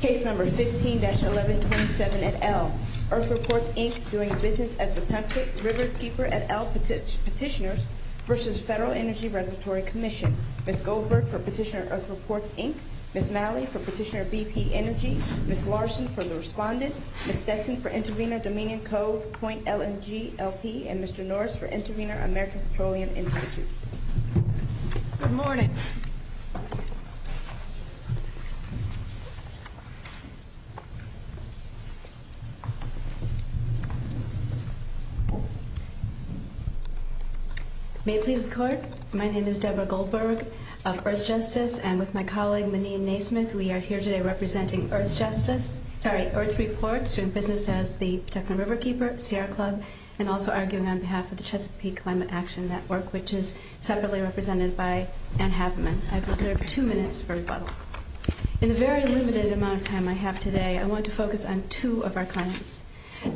Case No. 16-1127, et al. EarthReports, Inc. doing business at the Pembroke River Keeper, et al. Petitioners v. Federal Energy Regulatory Commission. Ms. Goldberg for Petitioner EarthReports, Inc. Ms. Malley for Petitioner BP Energy. Ms. Larson for the Respondent. Ms. Stetson for Intervenor DominionCo.LMGLP and Mr. Norris for Intervenor American Petroleum Industries. Good morning. May it please the Court, my name is Debra Goldberg of EarthJustice, and with my colleague Maneen Naismith, we are here today representing EarthJustice, sorry, EarthReports, doing business at the Pembroke River Keeper, Sierra Club, and also arguing on behalf of the Chesapeake Climate Action Network, which is separately represented by Anne Haberman. In the very limited amount of time I have today, I want to focus on two of our countries.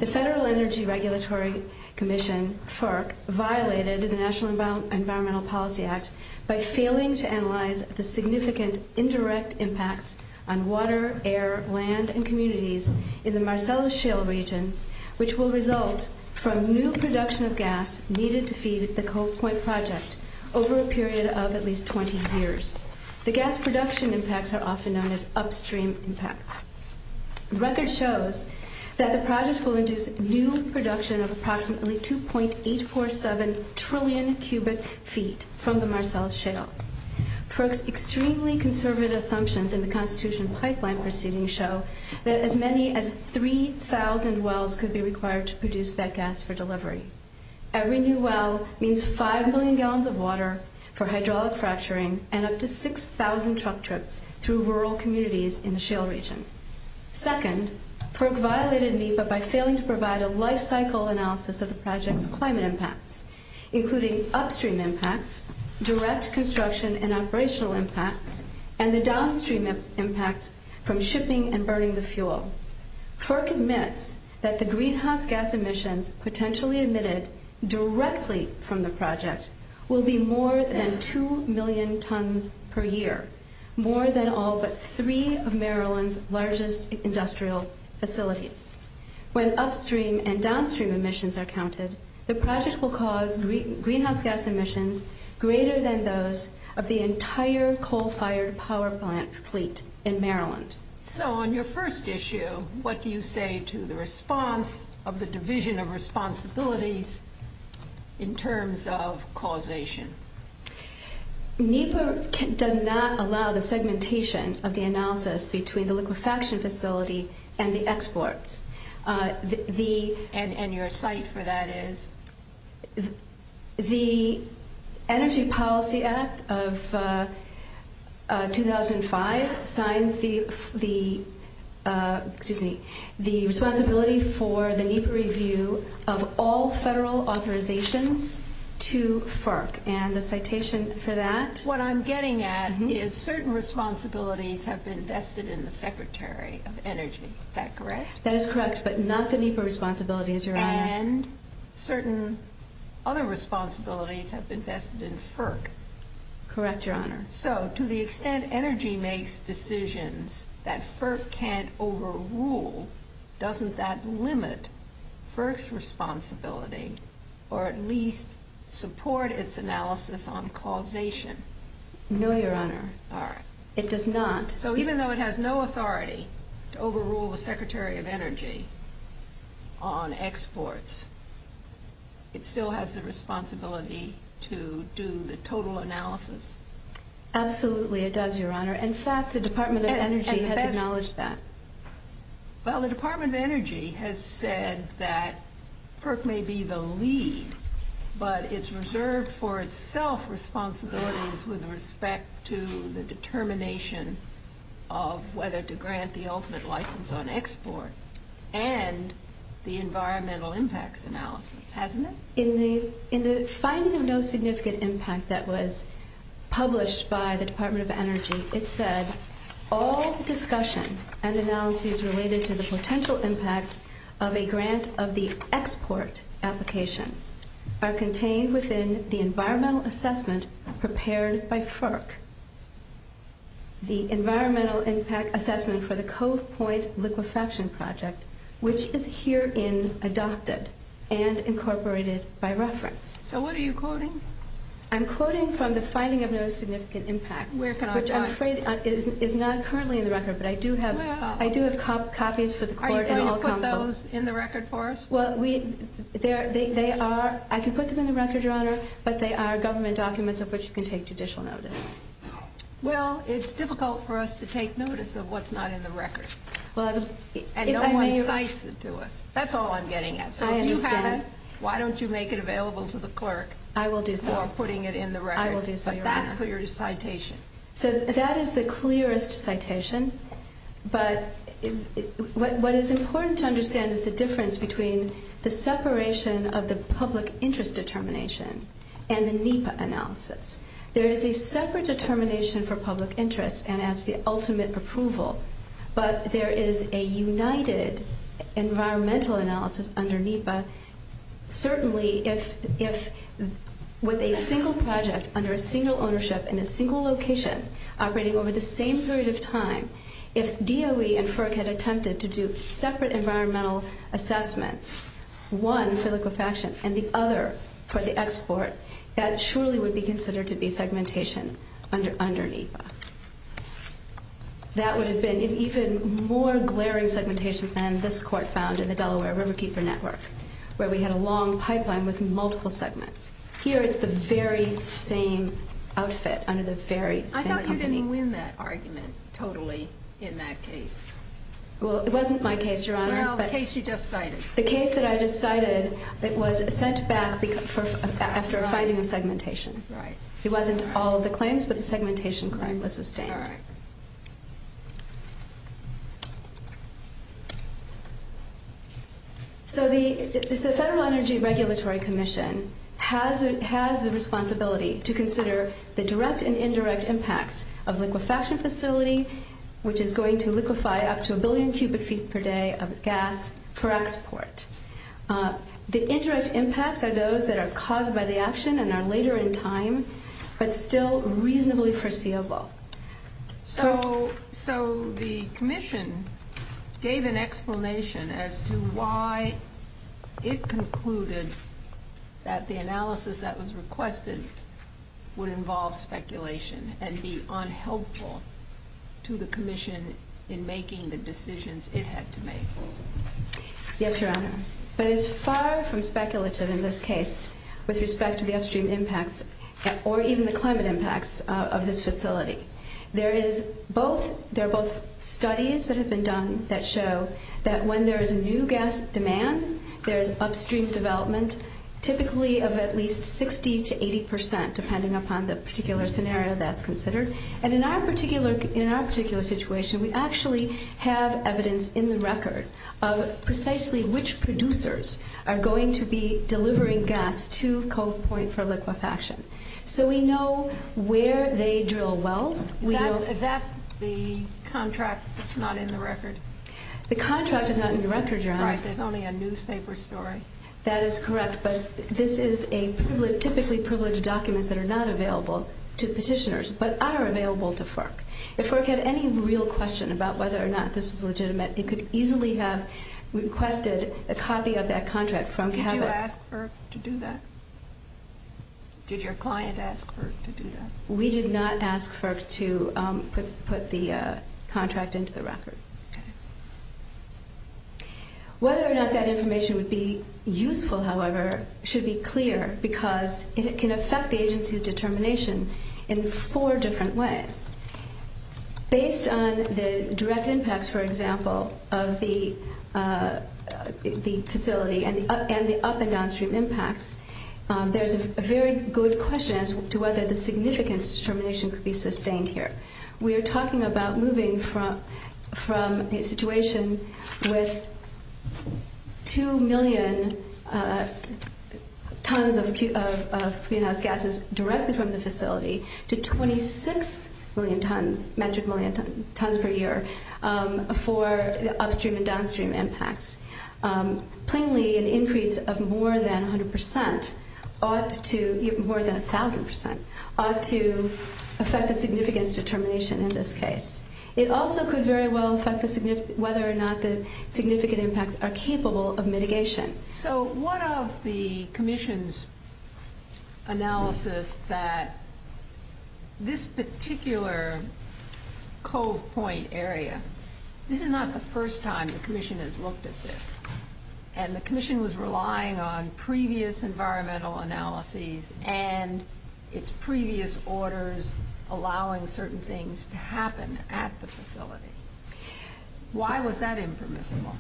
The Federal Energy Regulatory Commission, FERC, violated the National Environmental Policy Act by failing to analyze the significant indirect impacts on water, air, land, and communities in the Marcellus Shale region, which will result from new production of gas needed to feed the Cold Point Project over a period of at least 20 years. The gas production impacts are often known as upstream impacts. The record shows that the project will induce new production of approximately 2.847 trillion cubic feet from the Marcellus Shale. FERC's extremely conservative assumptions in the Constitutional Pipeline proceedings show that as many as 3,000 wells could be required to produce that gas for delivery. Every new well means 5 million gallons of water for hydraulic fracturing and up to 6,000 truck trips through rural communities in the Shale region. Second, FERC violated NEPA by failing to provide a life cycle analysis of the project climate impacts, including upstream impacts, direct construction and operational impacts, and FERC admits that the greenhouse gas emissions potentially emitted directly from the project will be more than 2 million tons per year, more than all but three of Maryland's largest industrial facilities. When upstream and downstream emissions are counted, the project will cause greenhouse gas emissions greater than those of the entire coal-fired power plant fleet in Maryland. So on your first issue, what do you say to the response of the Division of Responsibility in terms of causation? NEPA does not allow the segmentation of the analysis between the liquefaction facility and the exports. And your cite for that is, the Energy Policy Act of 2005 signs the responsibility for the NEPA review of all federal authorizations to FERC. And the citation for that? What I'm getting at is certain responsibilities have been vested in the Secretary of Energy. Is that correct? That is correct, but not the NEPA responsibilities, Your Honor. And certain other responsibilities have been vested in FERC. Correct, Your Honor. So to the extent Energy makes decisions that FERC can't overrule, doesn't that limit FERC's responsibility or at least support its analysis on causation? No, Your Honor. It does not. So even though it has no authority to overrule the Secretary of Energy on exports, it still has the responsibility to do the total analysis? Absolutely, it does, Your Honor. In fact, the Department of Energy has acknowledged that. Well, the Department of Energy has said that FERC may be the lead, but it's reserved for whether to grant the ultimate license on export and the environmental impacts analysis, hasn't it? In the filing of no significant impact that was published by the Department of Energy, it said, all discussion and analysis related to the potential impact of a grant of the export application are contained within the environmental assessment prepared by FERC. The environmental impact assessment for the Coast Point liquefaction project, which is herein adopted and incorporated by reference. So what are you quoting? I'm quoting from the filing of no significant impact. Which I'm afraid is not currently in the record, but I do have copies for the court. Are you going to put those in the record for us? Well, they are. I can put them in the record, Your Honor, but they are government documents of which can take judicial notice. Well, it's difficult for us to take notice of what's not in the record. And don't make license to us. That's all I'm getting at. So if you have it, why don't you make it available to the clerk? I will do so. For putting it in the record. I will do so, Your Honor. But that's the clearest citation. So that is the clearest citation, but what is important to understand is the difference between the separation of the public interest determination and the NEPA analysis. There is a separate determination for public interest, and that's the ultimate approval. But there is a united environmental analysis under NEPA. Certainly, if with a single project under a single ownership in a single location operating over the same period of time, if DOE and FERC had attempted to do separate environmental assessments, one for liquefaction and the other for the export, that surely would be considered to be segmentation under NEPA. That would have been an even more glaring segmentation plan this court found in the Delaware Riverkeeper Network, where we had a long pipeline with multiple segments. Here, it's the very same outfit under the very same company. Now, you didn't win that argument totally in that case. Well, it wasn't my case, Your Honor. Well, the case you just cited. The case that I just cited, it was sent back after finding the segmentation. Right. It wasn't all of the claims, but the segmentation claim was sustained. Right. There is an indirect impact of liquefaction facility, which is going to liquefy up to a billion cubic feet per day of gas for export. The indirect impacts are those that are caused by the action and are later in time, but still reasonably foreseeable. So, the commission gave an explanation as to why it concluded that the analysis that involved speculation and be unhelpful to the commission in making the decisions it had to make. Yes, Your Honor. But it's far from speculative in this case with respect to the upstream impacts or even the climate impacts of this facility. There are both studies that have been done that show that when there is a new gas demand, there is upstream development, typically of at least 60 to 80 percent, depending upon the particular scenario that's considered. And in our particular situation, we actually have evidence in the record of precisely which producers are going to be delivering gas to Cold Point for liquefaction. So, we know where they drill wells. Is that the contract that's not in the record? The contract is not in the record, Your Honor. It's only a newspaper story. That is correct, but this is a typically privileged document that are not available to petitioners, but are available to FERC. If FERC had any real question about whether or not this was legitimate, it could easily have requested a copy of that contract from... Did you ask FERC to do that? Did your client ask FERC to do that? We did not ask FERC to put the contract into the record. Okay. Whether or not that information would be useful, however, should be clear because it can affect the agency's determination in four different ways. Based on the direct impacts, for example, of the facility and the up and downstream impacts, there's a very good question as to whether the significance determination could be sustained here. We are talking about moving from a situation with 2 million tons of greenhouse gases directed from the facility to 26 million metric tons per year for upstream and downstream impacts. Plainly, an increase of more than 100%, more than 1,000%, ought to affect the significance determination in this case. It also could very well affect whether or not the significant impacts are capable of mitigation. What of the commission's analysis that this particular coal point area, this is not the And the commission was relying on previous environmental analyses and its previous orders allowing certain things to happen at the facility. Why was that impermissible?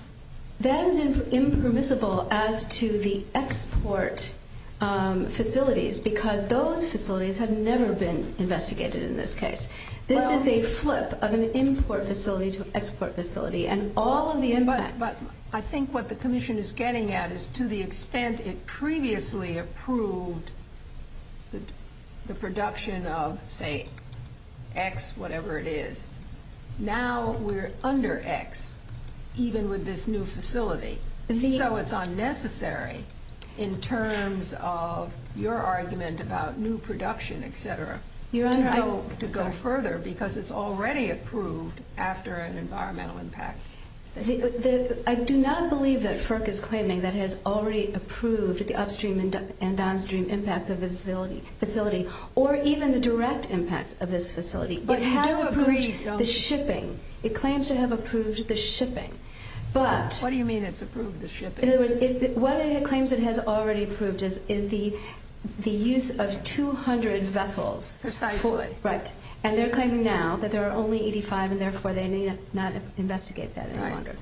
That is impermissible as to the export facilities because those facilities have never been investigated in this case. This is a flip of an import facility to an export facility. I think what the commission is getting at is to the extent it previously approved the production of, say, X, whatever it is. Now we're under X, even with this new facility. So it's unnecessary in terms of your argument about new production, et cetera. To go further because it's already approved after an environmental impact. I do not believe that FERC is claiming that it has already approved the upstream and downstream impact of this facility or even the direct impact of this facility. It claims to have approved the shipping. What it claims it has already approved is the use of 200 vessels. Precisely. Right. And they're claiming now that there are only 85 and therefore they may not investigate that any longer.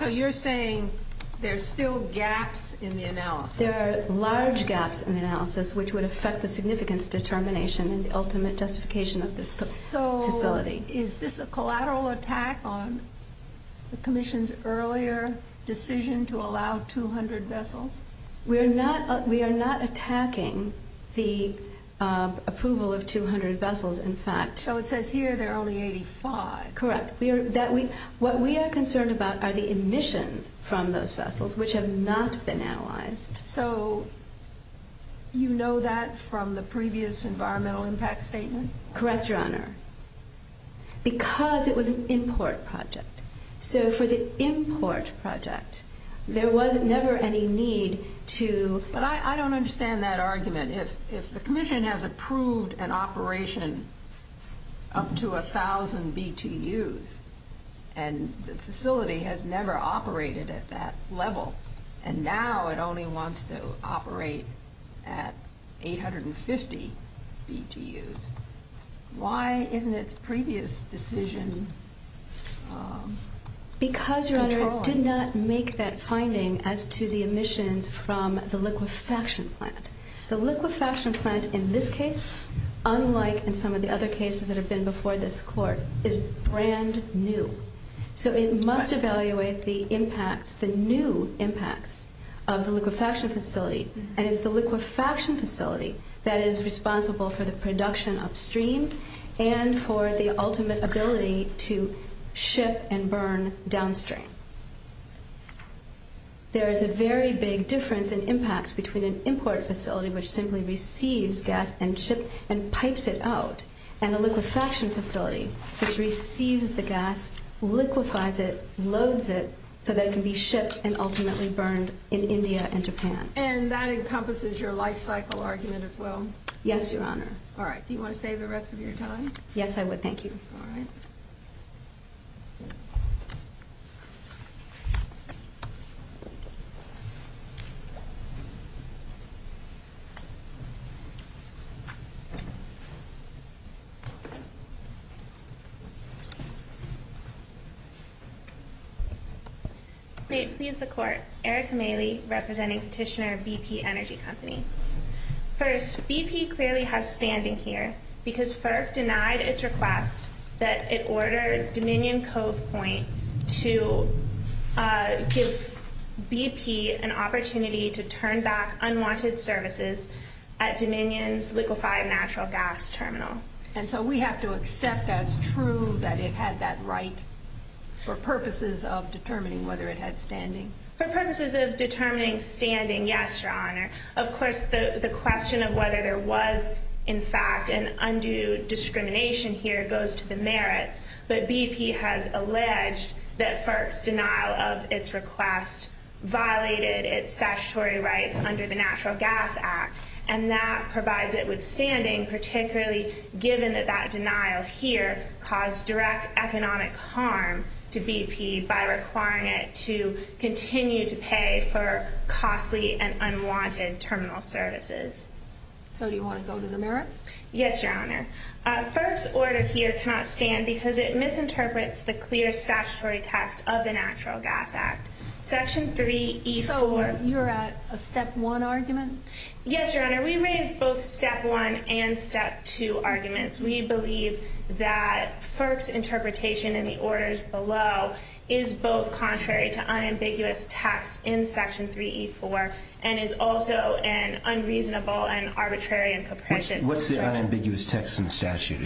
So you're saying there's still gaps in the analysis. There are large gaps in the analysis which would affect the significance determination and the ultimate justification of this facility. So is this a collateral attack on the commission's earlier decision to allow 200 vessels? We are not attacking the approval of 200 vessels, in fact. So it says here there are only 85. Correct. What we are concerned about are the emissions from those vessels which have not been analyzed. So you know that from the previous environmental impact statement? Correct, Your Honor. Because it was an import project. So for the import project, there was never any need to... But I don't understand that argument. If the commission has approved an operation up to 1,000 BTUs and the facility has never operated at that level and now it only wants to operate at 850 BTUs, why isn't its previous decision controlling? Because, Your Honor, it did not make that finding as to the emissions from the liquefaction plant. The liquefaction plant in this case, unlike in some of the other cases that have been before this court, is brand new. So it must evaluate the impacts, the new impacts of the liquefaction facility. And it's the liquefaction facility that is responsible for the production upstream and for the ultimate ability to ship and burn downstream. There is a very big difference in impacts between an import facility which simply receives gas and pipes it out and a liquefaction facility which receives the gas, liquefies it, loads it so that it can be shipped and ultimately burned in India and Japan. And that encompasses your life cycle argument as well? Yes, Your Honor. All right. Do you want to save the rest of your time? Yes, I would. Thank you. All right. May it please the court. Eric Maley, representing Petitioner BP Energy Company. First, BP clearly has standing here because FERC denied its request that it order Dominion liquefy a natural gas terminal. And so we have to accept that it's true that it had that right for purposes of determining whether it had standing? For purposes of determining standing, yes, Your Honor. Of course, the question of whether there was, in fact, an undue discrimination here goes to the merits that BP has alleged that FERC's denial of its request violated its statutory rights under the Natural Gas Act. And that provides it with standing, particularly given that that denial here caused direct economic harm to BP by requiring it to continue to pay for costly and unwanted terminal services. So do you want to go to the merits? Yes, Your Honor. FERC's order here cannot stand because it misinterprets the clear statutory text of the Natural Gas Act. Section 3E4. Oh, you're at a Step 1 argument? Yes, Your Honor. We raised both Step 1 and Step 2 arguments. We believe that FERC's interpretation in the orders below is both contrary to unambiguous text in Section 3E4, and is also an unreasonable and arbitrary and perpetual. What's the unambiguous text in the statute?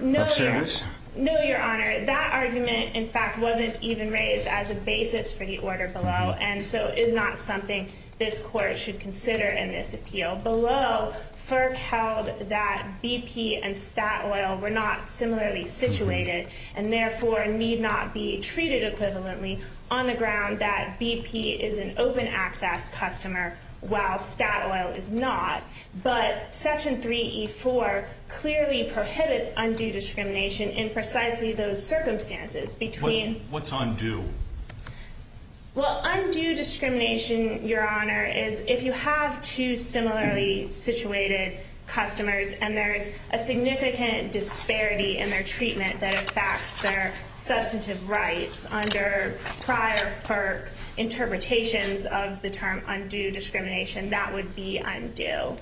No, Your Honor. No, Your Honor. That argument, in fact, wasn't even raised as a basis for the order below, and so is not something this Court should consider in this appeal. Below, FERC held that BP and stat oil were not similarly situated, and therefore need not be treated equivalently on the ground that BP is an open access customer, while stat oil is not. But Section 3E4 clearly prohibits undue discrimination in precisely those circumstances. What's undue? Well, undue discrimination, Your Honor, is if you have two similarly situated customers and there's a significant disparity in their treatment that affects their substantive rights under prior FERC interpretations of the term undue discrimination, that would be undue.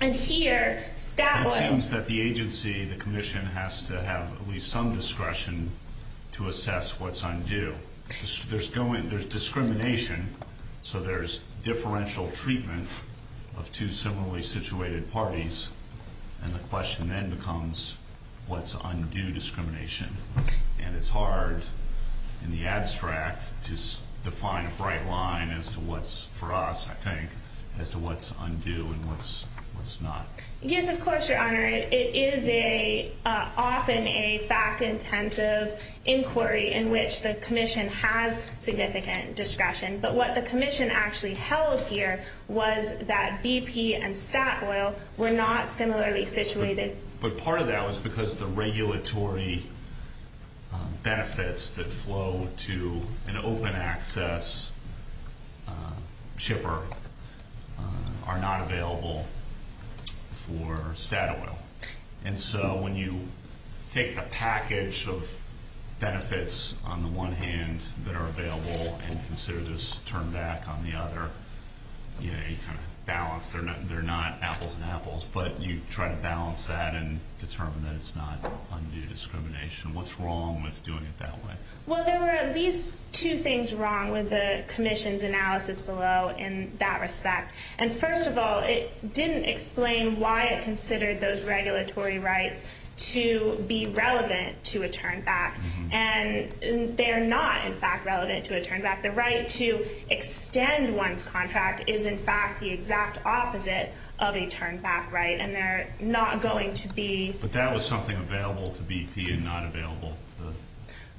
And here, that would... It seems that the agency, the Commission, has to have at least some discretion to assess what's undue. There's discrimination, so there's differential treatment of two similarly situated parties, and the question then becomes, what's undue discrimination? And it's hard, in the abstract, to define a bright line as to what's, for us, I think, as to what's undue and what's not. Yes, of course, Your Honor. It is often a fact-intensive inquiry in which the Commission has significant discretion, but what the Commission actually held here was that BP and stat oil were not similarly situated. But part of that was because the regulatory benefits that flow to an open-access shipper are not available for stat oil. And so, when you take the package of benefits on the one hand that are available and consider this turned back on the other, you know, you kind of balance. They're not apples and apples, but you try to balance that and determine that it's not undue discrimination. What's wrong with doing it that way? Well, there were at least two things wrong with the Commission's analysis below in that respect. And first of all, it didn't explain why it considered those regulatory rights to be relevant to a turned back. And they're not, in fact, relevant to a turned back. The right to extend one's contract is, in fact, the exact opposite of a turned back right, and they're not going to be... But that was something available to BP and not available for...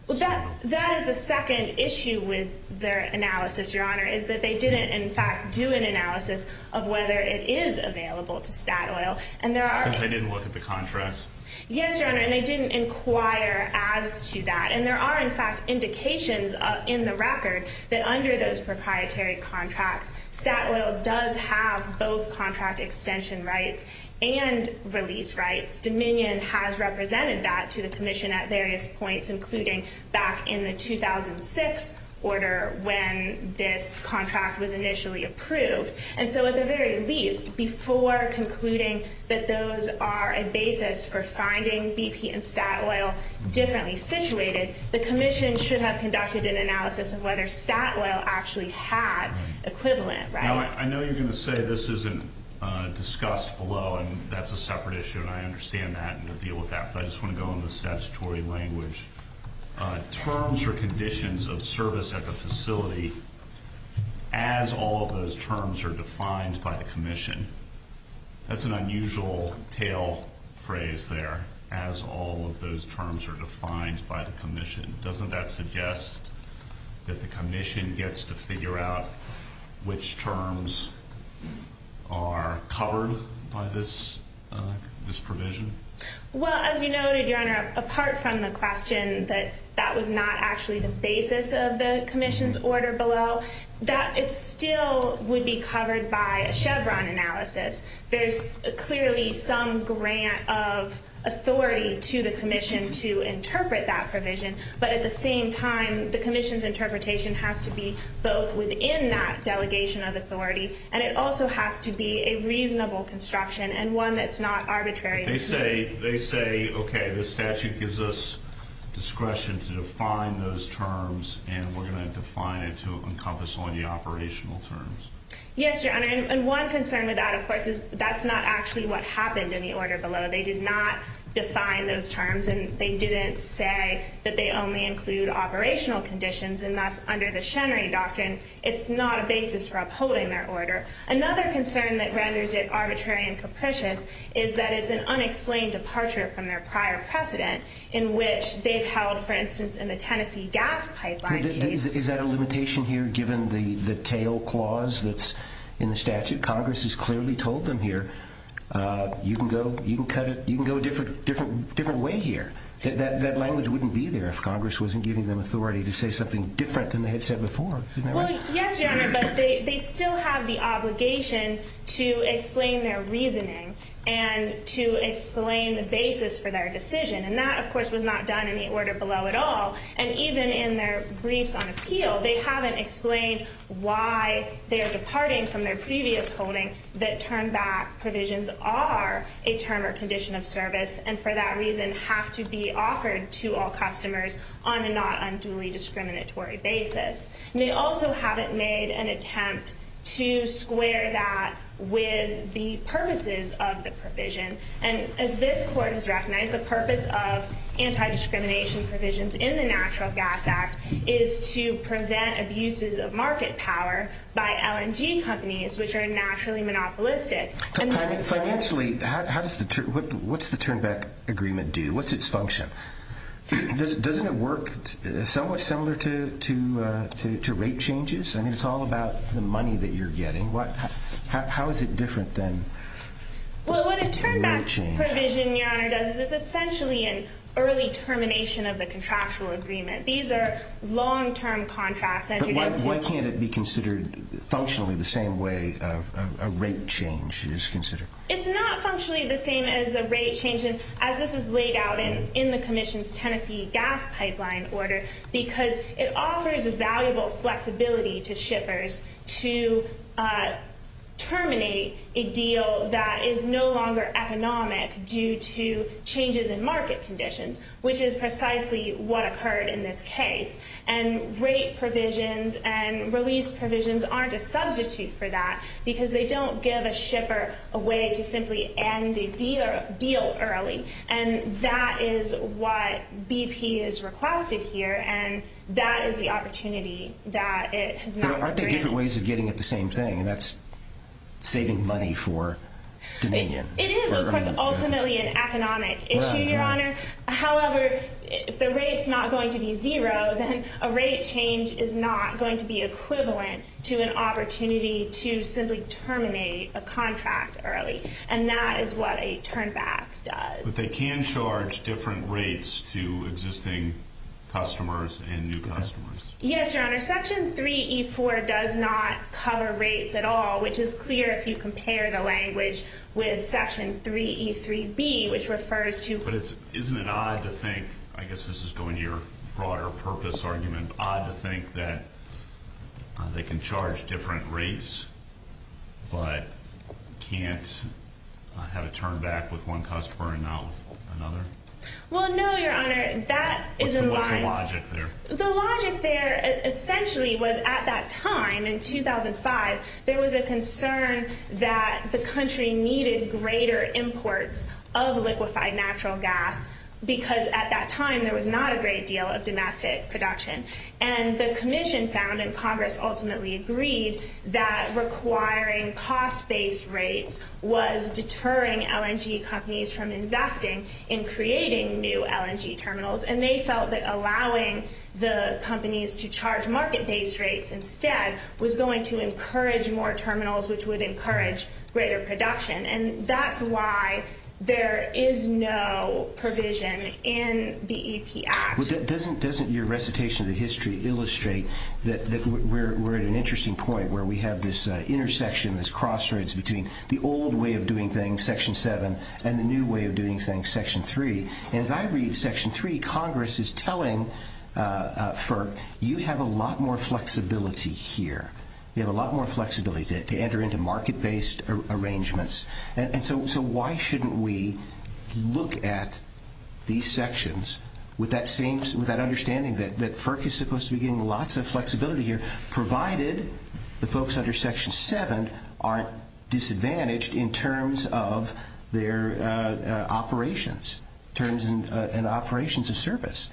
Well, that is the second issue with their analysis, Your Honor, is that they didn't, in fact, do an analysis of whether it is available to stat oil. And there are... Because they didn't look at the contrast? Yes, Your Honor, and they didn't inquire as to that. And there are, in fact, indications in the record that under those proprietary contracts, stat oil does have both contract extension rights and release rights. Dominion has represented that to the Commission at various points, including back in the 2006 order when this contract was initially approved. And so at the very least, before concluding that those are a basis for finding BP and the Commission should have conducted an analysis of whether stat oil actually had equivalent rights. Now, I know you're going to say this isn't discussed below, and that's a separate issue, and I understand that, and we'll deal with that. But I just want to go on the statutory language. Terms or conditions of service at the facility as all of those terms are defined by the Commission. That's an unusual tail phrase there, as all of those terms are defined by the Commission. Doesn't that suggest that the Commission gets to figure out which terms are covered by this provision? Well, as you know, Your Honor, apart from the question that that was not actually the basis of the There's clearly some grant of authority to the Commission to interpret that provision. But at the same time, the Commission's interpretation has to be both within that delegation of authority, and it also has to be a reasonable construction and one that's not arbitrary. They say, okay, this statute gives us discretion to define those terms, and we're going to define it to encompass only operational terms. Yes, Your Honor, and one concern with that, of course, is that's not actually what happened in the order below. They did not define those terms, and they didn't say that they only include operational conditions, and that's under the Shenry doctrine. It's not a basis for upholding that order. Another concern that renders it arbitrary and capricious is that it's an unexplained departure from their prior precedent, in which they've held, for instance, in the Tennessee gas pipeline case. Is that a limitation here, given the tail clause that's in the statute? Congress has clearly told them here, you can go a different way here. That language wouldn't be there if Congress wasn't giving them authority to say something different than they had said before. Well, yes, Your Honor, but they still have the obligation to explain their reasoning and to explain the basis for their decision, and that, of course, was not done in the order below at all. And even in their brief on appeal, they haven't explained why they're departing from their previous holding that turn-back provisions are a term or condition of service, and for that reason have to be offered to all customers on a not unduly discriminatory basis. And they also haven't made an attempt to square that with the purposes of the provision. And as this Court has recognized, the purpose of anti-discrimination provisions in the National Gas Act is to prevent abuses of market power by LNG companies, which are nationally monopolistic. Financially, what's the turn-back agreement do? What's its function? Doesn't it work somewhat similar to rate changes? I mean, it's all about the money that you're getting. How is it different than? Well, what a turn-back provision, Your Honor, does is it's essentially an early termination of the contractual agreement. These are long-term contracts. But why can't it be considered functionally the same way a rate change is considered? It's not functionally the same as a rate change, as this is laid out in the Commission's Tennessee Gas Pipeline Order, because it offers valuable flexibility to shippers to terminate a deal that is no longer economic due to changes in market conditions, which is precisely what occurred in this case. And rate provisions and release provisions aren't a substitute for that, because they don't give a shipper a way to simply end a deal early. And that is what BP has requested here, and that is the opportunity that it has not agreed to. But aren't there different ways of getting at the same thing, and that's saving money for Dominion? It is, of course, ultimately an economic issue, Your Honor. However, if the rate's not going to be zero, then a rate change is not going to be equivalent to an opportunity to simply terminate a contract early. And that is what a turn-back does. But they can charge different rates to existing customers and new customers. Yes, Your Honor. Section 3E4 does not cover rates at all, which is clear if you compare the language with Section 3E3B, which refers to – But isn't it odd to think – I guess this is going to your broader purpose argument – that people think that they can charge different rates, but can't have a turn-back with one customer and not with another? Well, no, Your Honor. What's the logic there? The logic there essentially was at that time, in 2005, there was a concern that the country needed greater imports of liquefied natural gas, because at that time there was not a great deal of domestic production. And the Commission found, and Congress ultimately agreed, that requiring cost-based rates was deterring LNG companies from investing in creating new LNG terminals. And they felt that allowing the companies to charge market-based rates instead was going to encourage more terminals, which would encourage greater production. And that's why there is no provision in the EAP Act. Doesn't your recitation of the history illustrate that we're at an interesting point where we have this intersection, this crossroads between the old way of doing things, Section 7, and the new way of doing things, Section 3? And if I read Section 3, Congress is telling FERC, you have a lot more flexibility here. You have a lot more flexibility to enter into market-based arrangements. And so why shouldn't we look at these sections with that understanding that FERC is supposed to be getting lots of flexibility here, provided the folks under Section 7 aren't disadvantaged in terms of their operations, in terms of operations of service?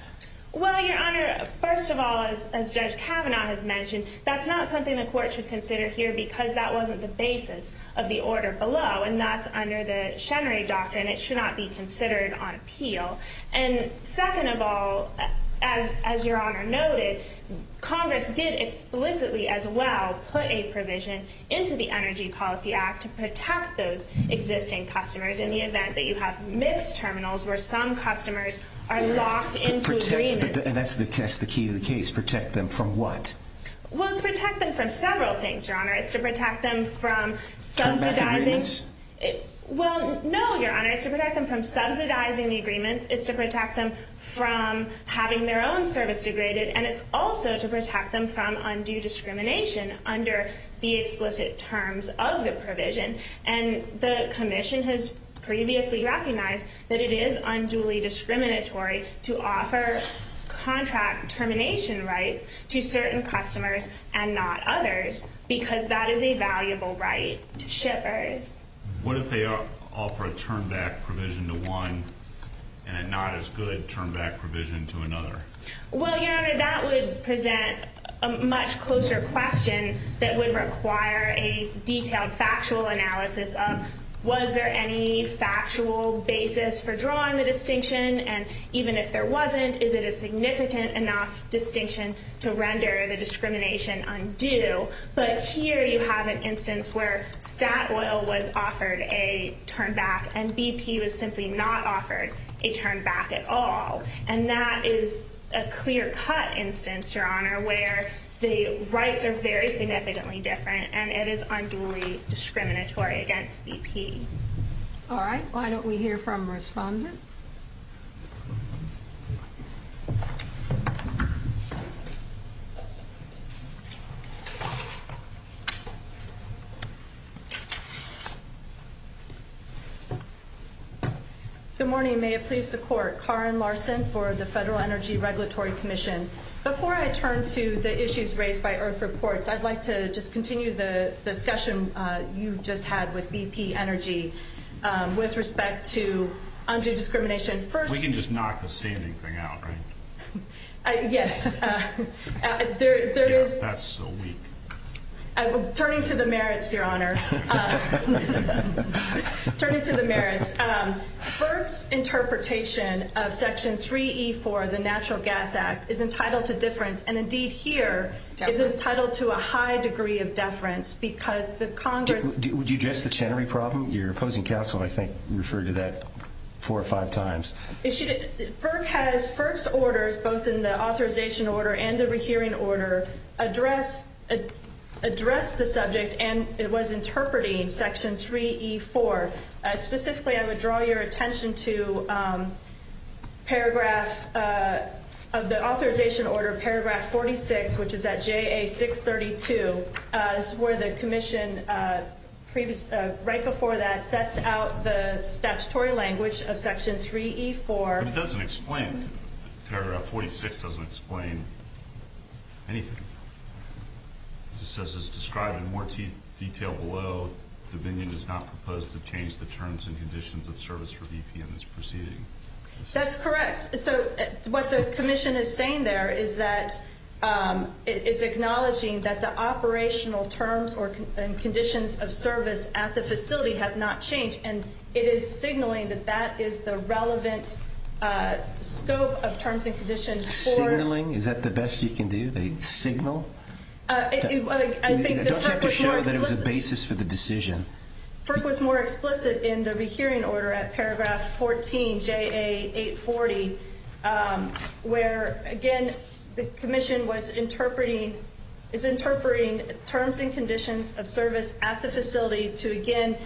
Well, Your Honor, first of all, as Judge Kavanaugh has mentioned, that's not something the court should consider here because that wasn't the basis of the order below. And that's under the Chenery Doctrine. It should not be considered on appeal. And second of all, as Your Honor noticed, Congress did explicitly, as well, put a provision into the Energy Policy Act to protect those existing customers in the event that you have missed terminals where some customers are locked into agreements. And that's the key to the case, protect them from what? Well, to protect them from several things, Your Honor. It's to protect them from subsidizing the agreements. It's to protect them from having their own service degraded. And it's also to protect them from undue discrimination under the explicit terms of the provision. And the Commission has previously recognized that it is unduly discriminatory to offer contract termination rights to certain customers and not others because that is a valuable right to shippers. What if they offer a turn-back provision to one and a not-as-good turn-back provision to another? Well, Your Honor, that would present a much closer question that would require a detailed factual analysis of, was there any factual basis for drawing the distinction? And even if there wasn't, is it a significant enough distinction to render the discrimination undue? But here you have an instance where that oil was offered a turn-back and BP was simply not offered a turn-back at all. And that is a clear-cut instance, Your Honor, where the rights are very significantly different and it is unduly discriminatory against BP. All right. Why don't we hear from respondents? Good morning. May it please the Court. Karen Larson for the Federal Energy Regulatory Commission. Before I turn to the issues raised by IRF Reports, I'd like to just continue the discussion you just had with BP Energy with respect to undue discrimination We can just knock the standing thing out, right? Yes. That's so weak. Turning to the merits, Your Honor. Turning to the merits. First interpretation of Section 3E4 of the Natural Gas Act is entitled to deference, and indeed here is entitled to a high degree of deference because the Congress Would you address the Chenery problem? Your opposing counsel, I think, referred to that four or five times. Burke's orders, both in the authorization order and the rehearing order, address the subject and it was interpreting Section 3E4. Specifically, I would draw your attention to paragraph of the authorization order, paragraph 46, which is at JA 632. This is where the Commission, right before that, sets out the statutory language of Section 3E4. It doesn't explain it. Paragraph 46 doesn't explain anything. It says, as described in more detail below, the venue does not propose to change the terms and conditions of service for BP in this proceeding. That's correct. So what the Commission is saying there is that it's acknowledging that the operational terms and conditions of service at the facility have not changed, and it is signaling that that is the relevant scope of terms and conditions. Signaling? Is that the best you can do, the signal? It doesn't have to show that it was the basis for the decision. FERC was more explicit in the rehearing order at paragraph 14, JA 840, where, again, the Commission is interpreting terms and conditions of service at the facility to, again,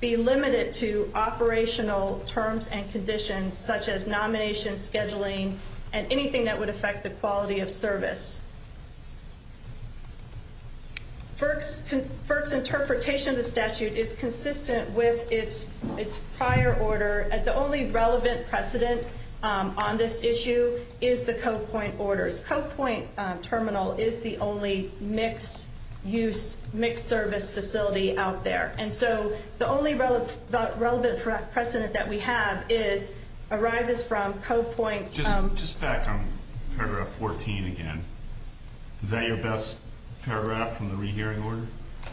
be limited to operational terms and conditions, such as nomination, scheduling, and anything that would affect the quality of service. FERC's interpretation of the statute is consistent with its prior order, and the only relevant precedent on this issue is the Co-Point orders. Co-Point Terminal is the only mixed-use, mixed-service facility out there. And so the only relevant precedent that we have is arises from Co-Point. Just back on paragraph 14 again, is that your best paragraph from the rehearing order?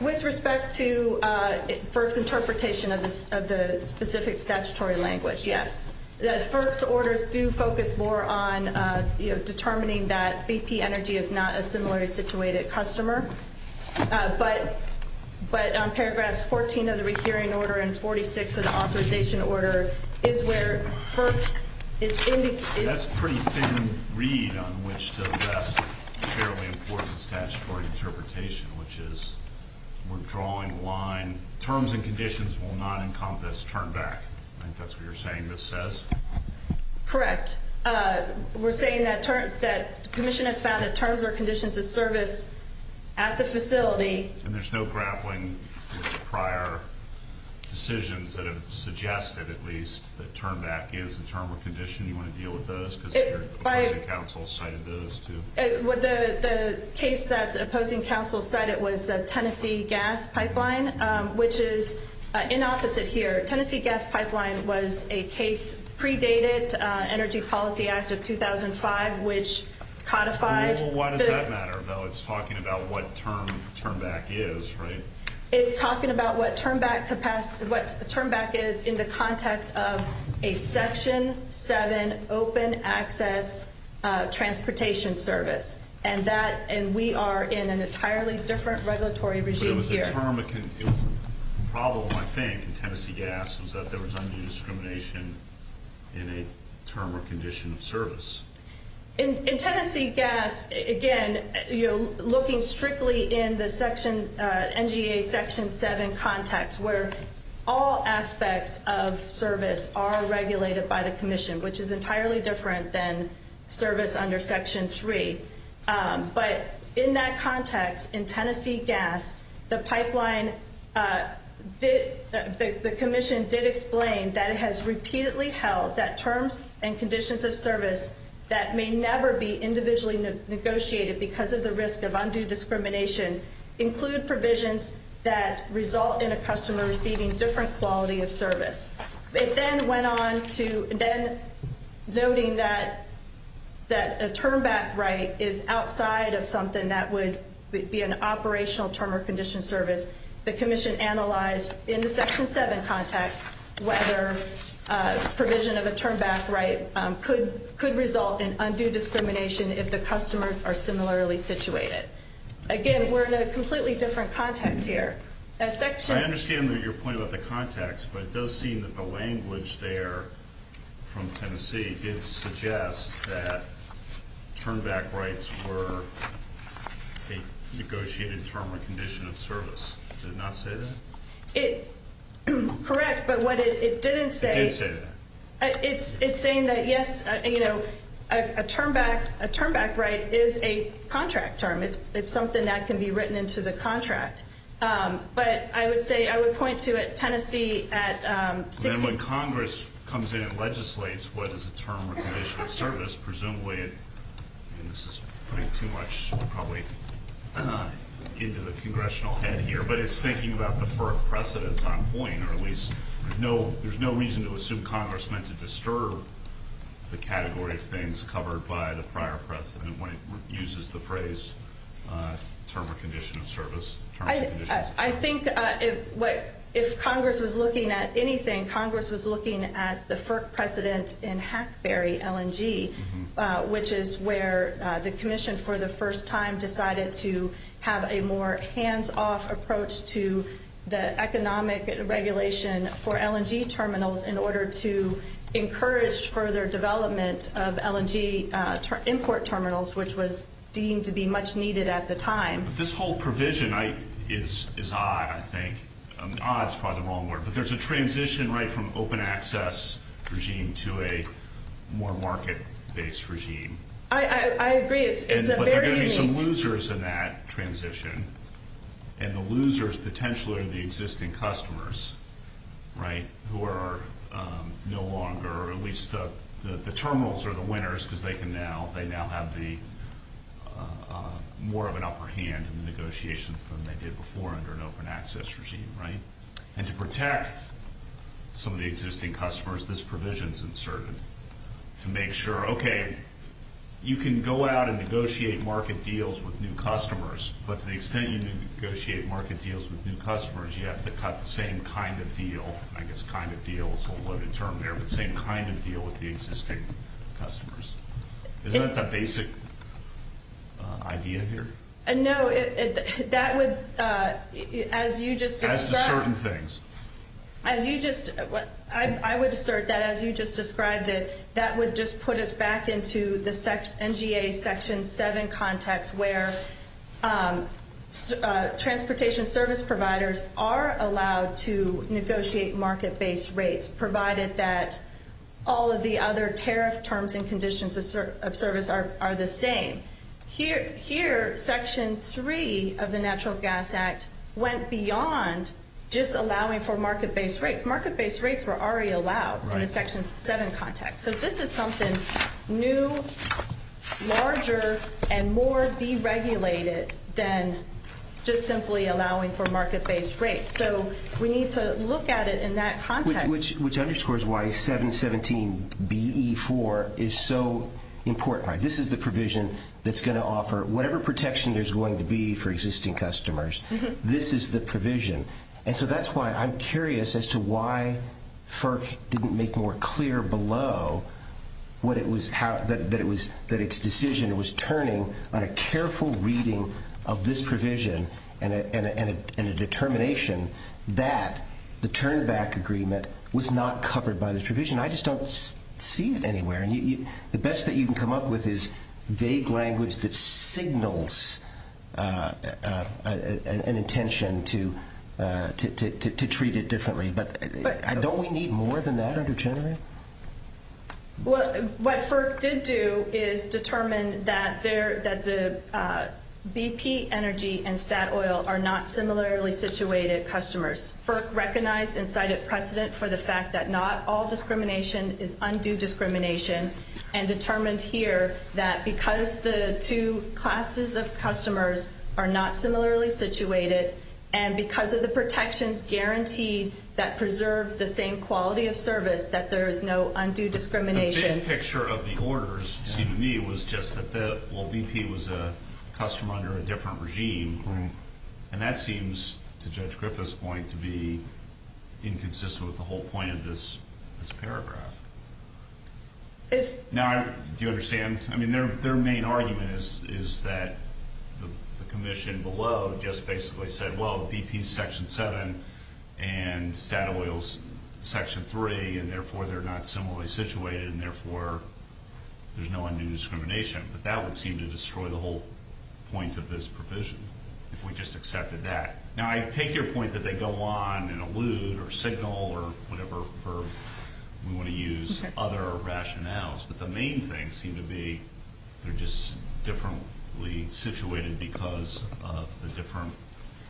With respect to FERC's interpretation of the specific statutory language, yes. FERC's orders do focus more on determining that BP Energy is not a similarly situated customer, but on paragraph 14 of the rehearing order and 46 of the authorization order, is where FERC is indicating... That's a pretty thin read on which the best, fairly important statutory interpretation, which is we're drawing the line, terms and conditions will not encompass turn-back. I think that's what you're saying this says. Correct. We're saying that the commission has found that terms or conditions of service at the facility... And there's no grappling with prior decisions that have suggested, at least, that turn-back gives the term or condition you want to deal with those, because the opposing counsel cited those, too. The case that the opposing counsel cited was the Tennessee gas pipeline, which is inopposite here. Tennessee gas pipeline was a case predated Energy Policy Act of 2005, which codified... Why does that matter, though? It's talking about what term turn-back is, right? It's talking about what turn-back is in the context of a Section 7 open access transportation service, and we are in an entirely different regulatory regime here. The problem, I think, in Tennessee gas is that there was undue discrimination in a term or condition of service. In Tennessee gas, again, you're looking strictly in the NGA Section 7 context, where all aspects of service are regulated by the commission, which is entirely different than service under Section 3. But in that context, in Tennessee gas, the pipeline did... The commission did explain that it has repeatedly held that terms and conditions of service that may never be individually negotiated because of the risk of undue discrimination include provisions that result in a customer receiving different quality of service. They then went on to then noting that a turn-back right is outside of something that would be an operational term or condition service. The commission analyzed in the Section 7 context whether provision of a turn-back right could result in undue discrimination if the customers are similarly situated. Again, we're in a completely different context here. I understand that you're pointing out the context, but it does seem that the language there from Tennessee did suggest that turn-back rights were a negotiated term or condition of service. Did it not say that? Correct, but what it didn't say... It didn't say that. It's saying that, yes, a turn-back right is a contract term. It's something that can be written into the contract. But I would say, I would point to it, Tennessee at... And when Congress comes in and legislates what is a term or condition of service, presumably, and this is putting too much probably into the congressional head here, but it's thinking about the birth precedence on point, or at least there's no reason to assume Congress meant to disturb the category of things covered by the prior precedent when it uses the phrase term or condition of service. I think if Congress was looking at anything, Congress was looking at the precedent in Hackberry LNG, which is where the commission for the first time decided to have a more hands-off approach to the economic regulation for LNG terminals in order to encourage further development of LNG import terminals, which was deemed to be much needed at the time. This whole provision is odd, I think. Odd is probably the wrong word. But there's a transition, right, from open access regime to a more market-based regime. I agree. But there are going to be some losers in that transition, and the losers potentially are the existing customers, right, who are no longer, at least the terminals are the winners because they now have more of an upper hand in the negotiation than they did before under an open access regime, right? And to protect some of the existing customers, this provision is uncertain. To make sure, okay, you can go out and negotiate market deals with new customers, but to the extent you can negotiate market deals with new customers, you have to have the same kind of deal, I guess kind of deal is a loaded term there, but the same kind of deal with the existing customers. Isn't that the basic idea here? No, that would, as you just said. As to certain things. As you just, I would assert that as you just described it, that would just put us back into the NGA Section 7 context where transportation service providers are allowed to negotiate market-based rates, provided that all of the other tariff terms and conditions of service are the same. Here, Section 3 of the Natural Gas Act went beyond just allowing for market-based rates. Market-based rates were already allowed in a Section 7 context. So this is something new, larger, and more deregulated than just simply allowing for market-based rates. So we need to look at it in that context. Which underscores why 717BE4 is so important. This is the provision that's going to offer whatever protection there's going to be for existing customers. This is the provision. And so that's why I'm curious as to why FERC didn't make more clear below that its decision was turning on a careful reading of this provision and a determination that the turn-back agreement was not covered by this provision. I just don't see it anywhere. The best that you can come up with is vague language that signals an intention to treat it differently. But don't we need more than that under General? What FERC did do is determine that the BP Energy and Statoil are not similarly situated customers. FERC recognized and cited precedent for the fact that not all discrimination is undue discrimination and determined here that because the two classes of customers are not similarly situated and because of the protections guaranteed that preserve the same quality of service, that there is no undue discrimination. The big picture of the orders to me was just that BP was a customer under a different regime. And that seems, to Judge Griffith's point, to be inconsistent with the whole point of this paragraph. Now, do you understand? I mean, their main argument is that the commission below just basically said, well, BP's Section 7 and Statoil's Section 3, and therefore they're not similarly situated and therefore there's no undue discrimination. But that would seem to destroy the whole point of this provision if we just accepted that. Now, I take your point that they go on and allude or signal or whatever we want to use other rationales. But the main thing seemed to be they're just differently situated because of the different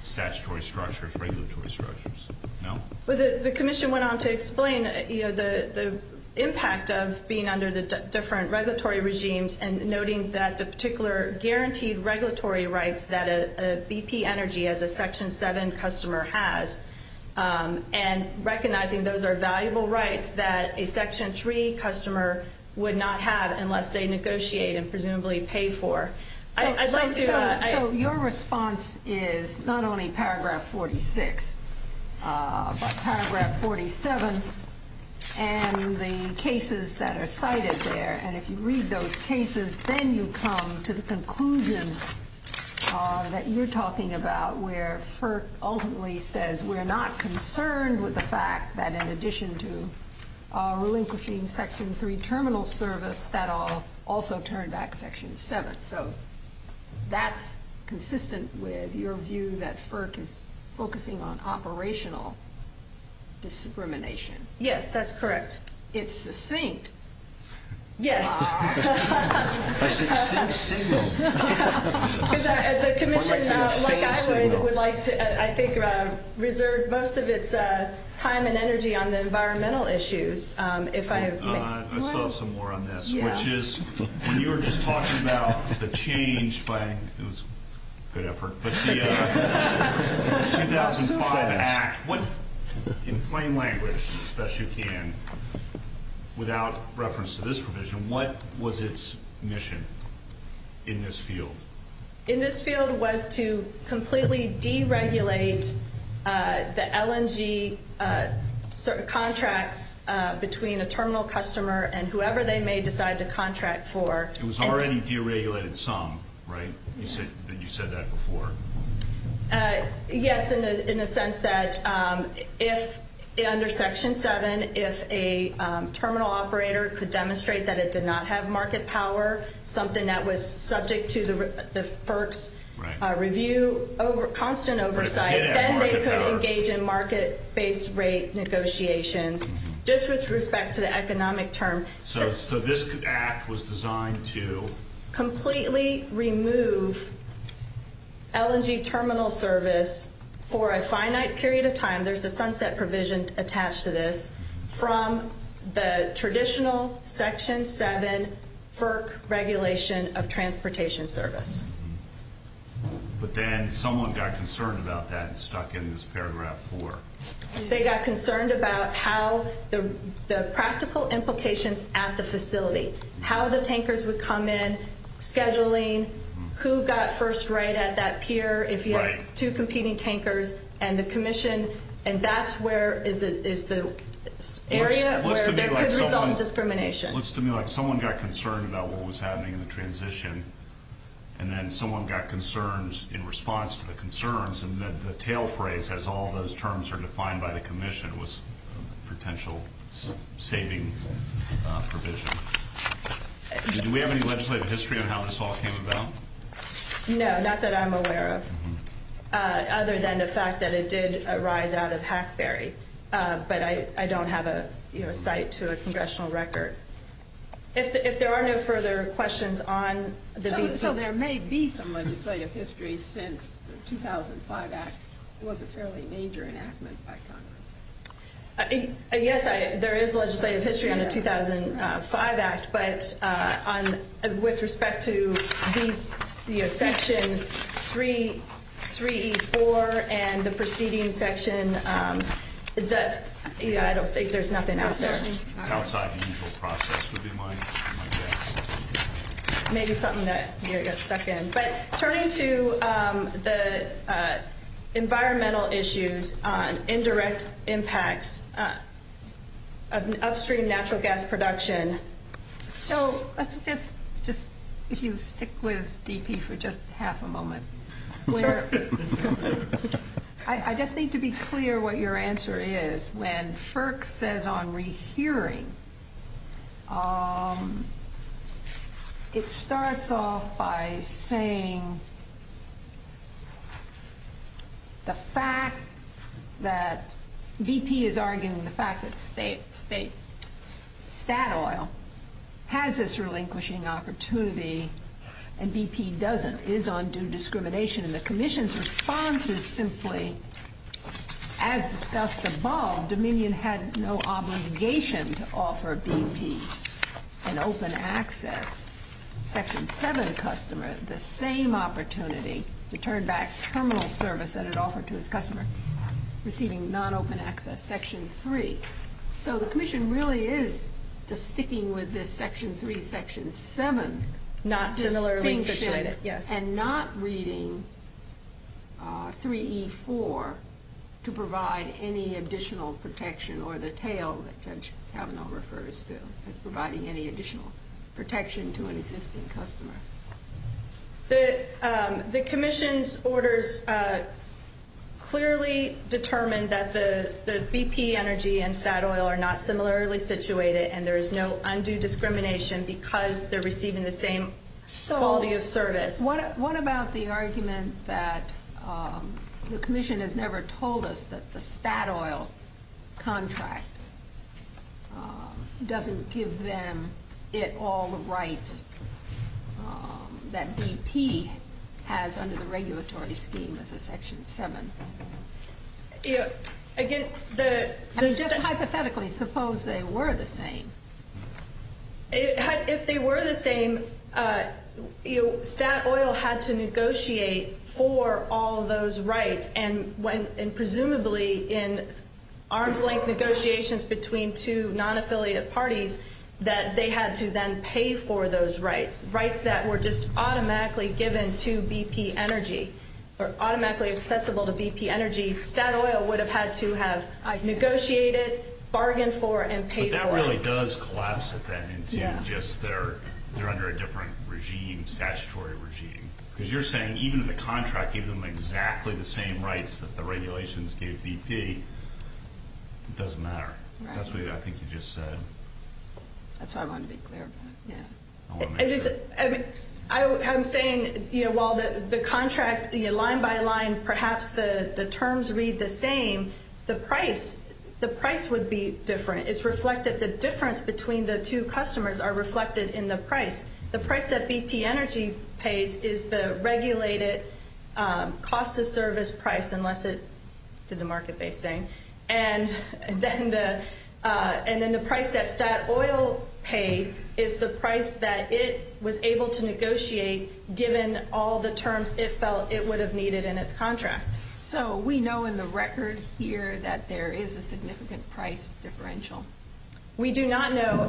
statutory structures, regulatory structures. No? Well, the commission went on to explain, you know, the impact of being under the different regulatory regimes and noting that the particular guaranteed regulatory rights that a BP Energy as a Section 7 customer has and recognizing those are valuable rights that a Section 3 customer would not have unless they negotiate and presumably pay for. So your response is not only Paragraph 46, but Paragraph 47 and the cases that are cited there. And if you read those cases, then you come to the conclusion that you're talking about, where FERC ultimately says we're not concerned with the fact that in addition to relinquishing Section 3 terminal service, that will also turn back Section 7. So that's consistent with your view that FERC is focusing on operational discrimination. Yes, that's correct. It's succinct. Yes. That's a distinct signal. The commission, like I would, would like to, I think, reserve most of its time and energy on the environmental issues. Let's talk some more on this, which is you were just talking about the change by 2005 Act. In plain language, as best you can, without reference to this provision, what was its mission in this field? In this field was to completely deregulate the LNG contracts between a terminal customer and whoever they may decide to contract for. It was already deregulated some, right? You said that before. Yes, in the sense that if under Section 7, if a terminal operator could demonstrate that it did not have market power, something that was subject to the FERC's review, constant oversight, then they could engage in market-based rate negotiations, just with respect to the economic term. So this Act was designed to? Completely remove LNG terminal service for a finite period of time. There's a sunset provision attached to this. From the traditional Section 7 FERC regulation of transportation service. But then someone got concerned about that, stuck in this paragraph 4. They got concerned about how the practical implications at the facility, how the tankers would come in, scheduling, who got first rate at that pier, if you have two competing tankers, and the commission, and that's where is the area where there could be self-discrimination. Looks to me like someone got concerned about what was happening in the transition, and then someone got concerned in response to the concerns, and then the tail phrase, as all those terms are defined by the commission, was potential saving provision. Do we have any legislative history on how this all came about? No, not that I'm aware of. Other than the fact that it did arise out of Hatchbury. But I don't have a cite to a congressional record. If there are no further questions on the? There may be some legislative history since the 2005 Act. It was a fairly major enactment back then. Yes, there is legislative history on the 2005 Act, but with respect to Section 3E4 and the preceding section, I don't think there's nothing out there. Outside the usual process would be my guess. Maybe something that you're stuck in. But turning to the environmental issues, indirect impacts, upstream natural gas production. So let's just stick with DP for just half a moment. I just need to be clear what your answer is. When FERC says on rehearing, it starts off by saying the fact that BP is arguing the fact that state stat oil has this relinquishing opportunity and BP doesn't is undue discrimination. And the commission's response is simply as discussed above, that while Dominion had no obligation to offer BP an open access, Section 7 customers the same opportunity to turn back terminal service that it offered to its customers, receiving non-open access, Section 3. So the commission really is just sticking with this Section 3, Section 7. And not reading 3E4 to provide any additional protection or the tail that Judge Kavanaugh refers to as providing any additional protection to an existing customer. The commission's orders clearly determine that the BP energy and stat oil are not similarly situated and there is no undue discrimination because they're receiving the same quality of service. So what about the argument that the commission has never told us that the stat oil contract doesn't give them it all the rights that BP has under the regulatory scheme of the Section 7? Again, hypothetically, suppose they were the same. If they were the same, stat oil had to negotiate for all those rights and presumably in arm's length negotiations between two non-affiliated parties that they had to then pay for those rights, rights that were just automatically given to BP Energy or automatically accessible to BP Energy, stat oil would have had to have negotiated, bargained for, and paid for. But that really does collapse at that instant and just they're under a different regime, statutory regime. Because you're saying even the contract gives them exactly the same rights that the regulations give BP. It doesn't matter. That's what I think you just said. That's what I want to be clear about, yeah. I'm saying while the contract, line by line, perhaps the terms read the same, the price would be different. It's reflected. The difference between the two customers are reflected in the price. The price that BP Energy pays is the regulated cost of service price unless it's the market-based thing. And then the price that stat oil pays is the price that it was able to negotiate given all the terms it felt it would have needed in its contract. So we know in the record here that there is a significant price differential. We do not know.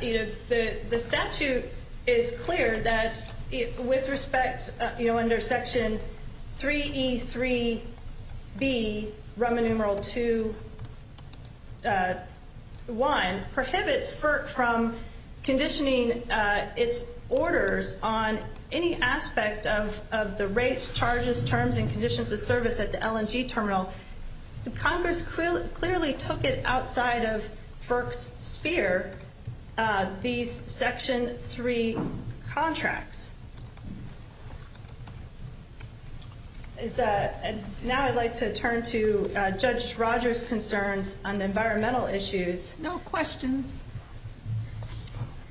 The statute is clear that with respect under Section 3E3B, Roman numeral 2, 1, prohibits FERC from conditioning its orders on any aspect of the rates, charges, terms, and conditions of service at the LNG terminal. Congress clearly took it outside of FERC's sphere, these Section 3 contracts. Now I'd like to turn to Judge Rogers' concerns on environmental issues. No questions.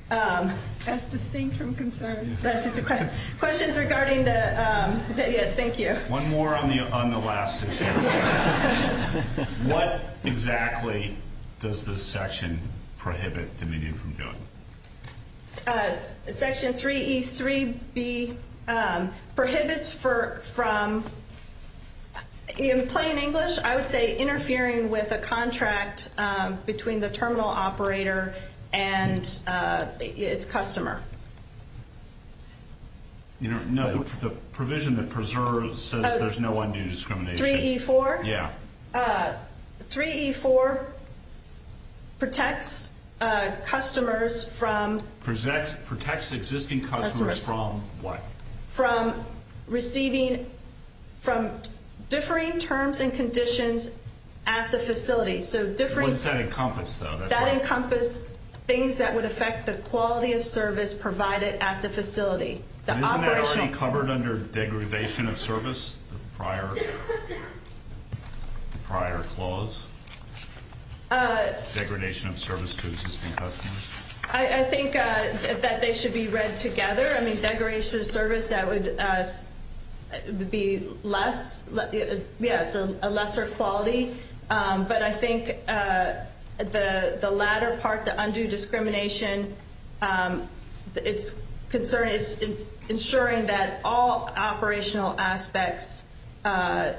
That's distinct from concerns. That's just a question. Questions regarding the, thank you. One more on the last issue. What exactly does this section prohibit the media from doing? Section 3E3B prohibits from, in plain English, I would say, interfering with a contract between the terminal operator and its customer. No, the provision that preserves says there's no undue discrimination. 3E4? Yeah. 3E4 protects customers from... Protects existing customers from what? From receiving, from differing terms and conditions at the facility. So differing... What does that encompass though? That encompasses things that would affect the quality of service provided at the facility. Isn't that actually covered under degradation of service, prior clause? Degradation of service to existing customers. I think that they should be read together. I mean, degradation of service, that would be less, yeah, a lesser quality. But I think the latter part, the undue discrimination, it's ensuring that all operational aspects are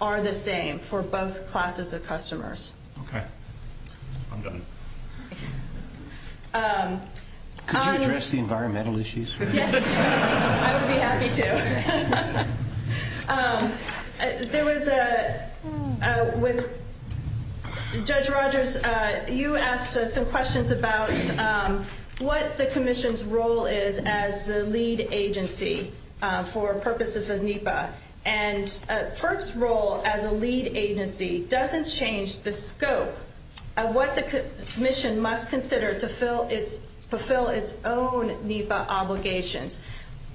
the same for both classes of customers. Okay. I'm done. Could you address the environmental issues for a minute? I would be happy to. There was a... Judge Rogers, you asked some questions about what the commission's role is as the lead agency for purposes of NEPA. And PERC's role as a lead agency doesn't change the scope of what the commission must consider to fulfill its own NEPA obligation.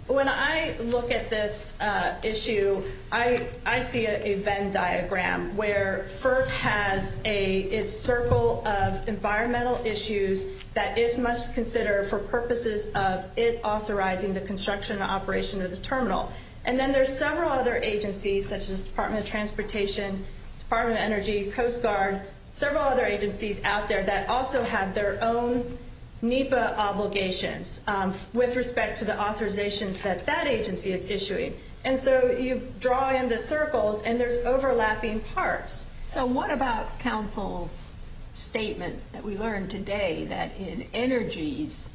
When I look at this issue, I see a Venn diagram, where PERC has its circle of environmental issues that it must consider for purposes of it authorizing the construction and operation of the terminal. And then there's several other agencies, such as Department of Transportation, Department of Energy, Coast Guard, several other agencies out there that also have their own NEPA obligations with respect to the authorizations that that agency is issuing. And so you draw in the circles, and there's overlapping parts. So what about Council's statement that we learned today, that in Energy's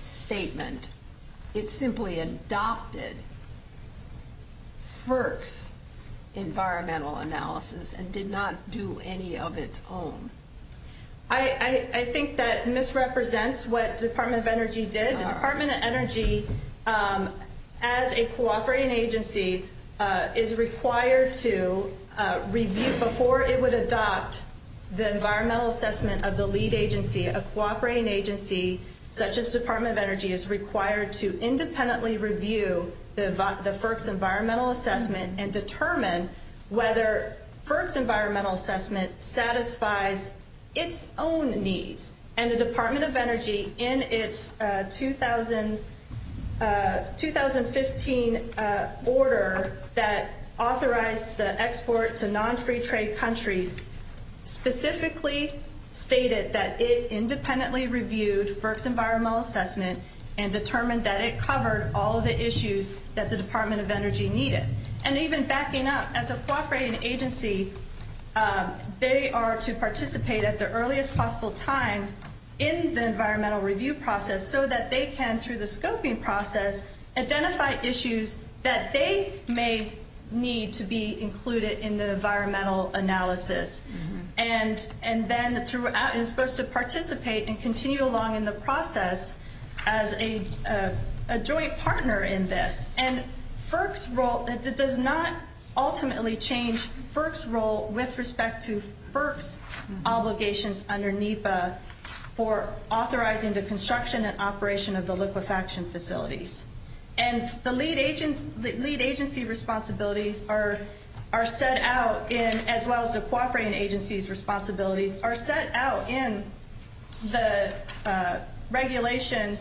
statement, it simply adopted PERC's environmental analysis and did not do any of its own? I think that misrepresents what Department of Energy did. Department of Energy, as a cooperating agency, is required to review before it would adopt the environmental assessment of the lead agency. A cooperating agency, such as Department of Energy, is required to independently review the PERC's environmental assessment and determine whether PERC's environmental assessment satisfies its own needs. And the Department of Energy, in its 2015 order that authorized the export to non-free trade countries, specifically stated that it independently reviewed PERC's environmental assessment and determined that it covered all of the issues that the Department of Energy needed. And even backing up, as a cooperating agency, they are to participate at the earliest possible time in the environmental review process so that they can, through the scoping process, identify issues that they may need to be included in the environmental analysis. And then is supposed to participate and continue along in the process as a joint partner in this. And it does not ultimately change PERC's role with respect to PERC's obligations under NEPA for authorizing the construction and operation of the liquefaction facilities. And the lead agency's responsibilities are set out, as well as the cooperating agency's responsibilities, are set out in the regulation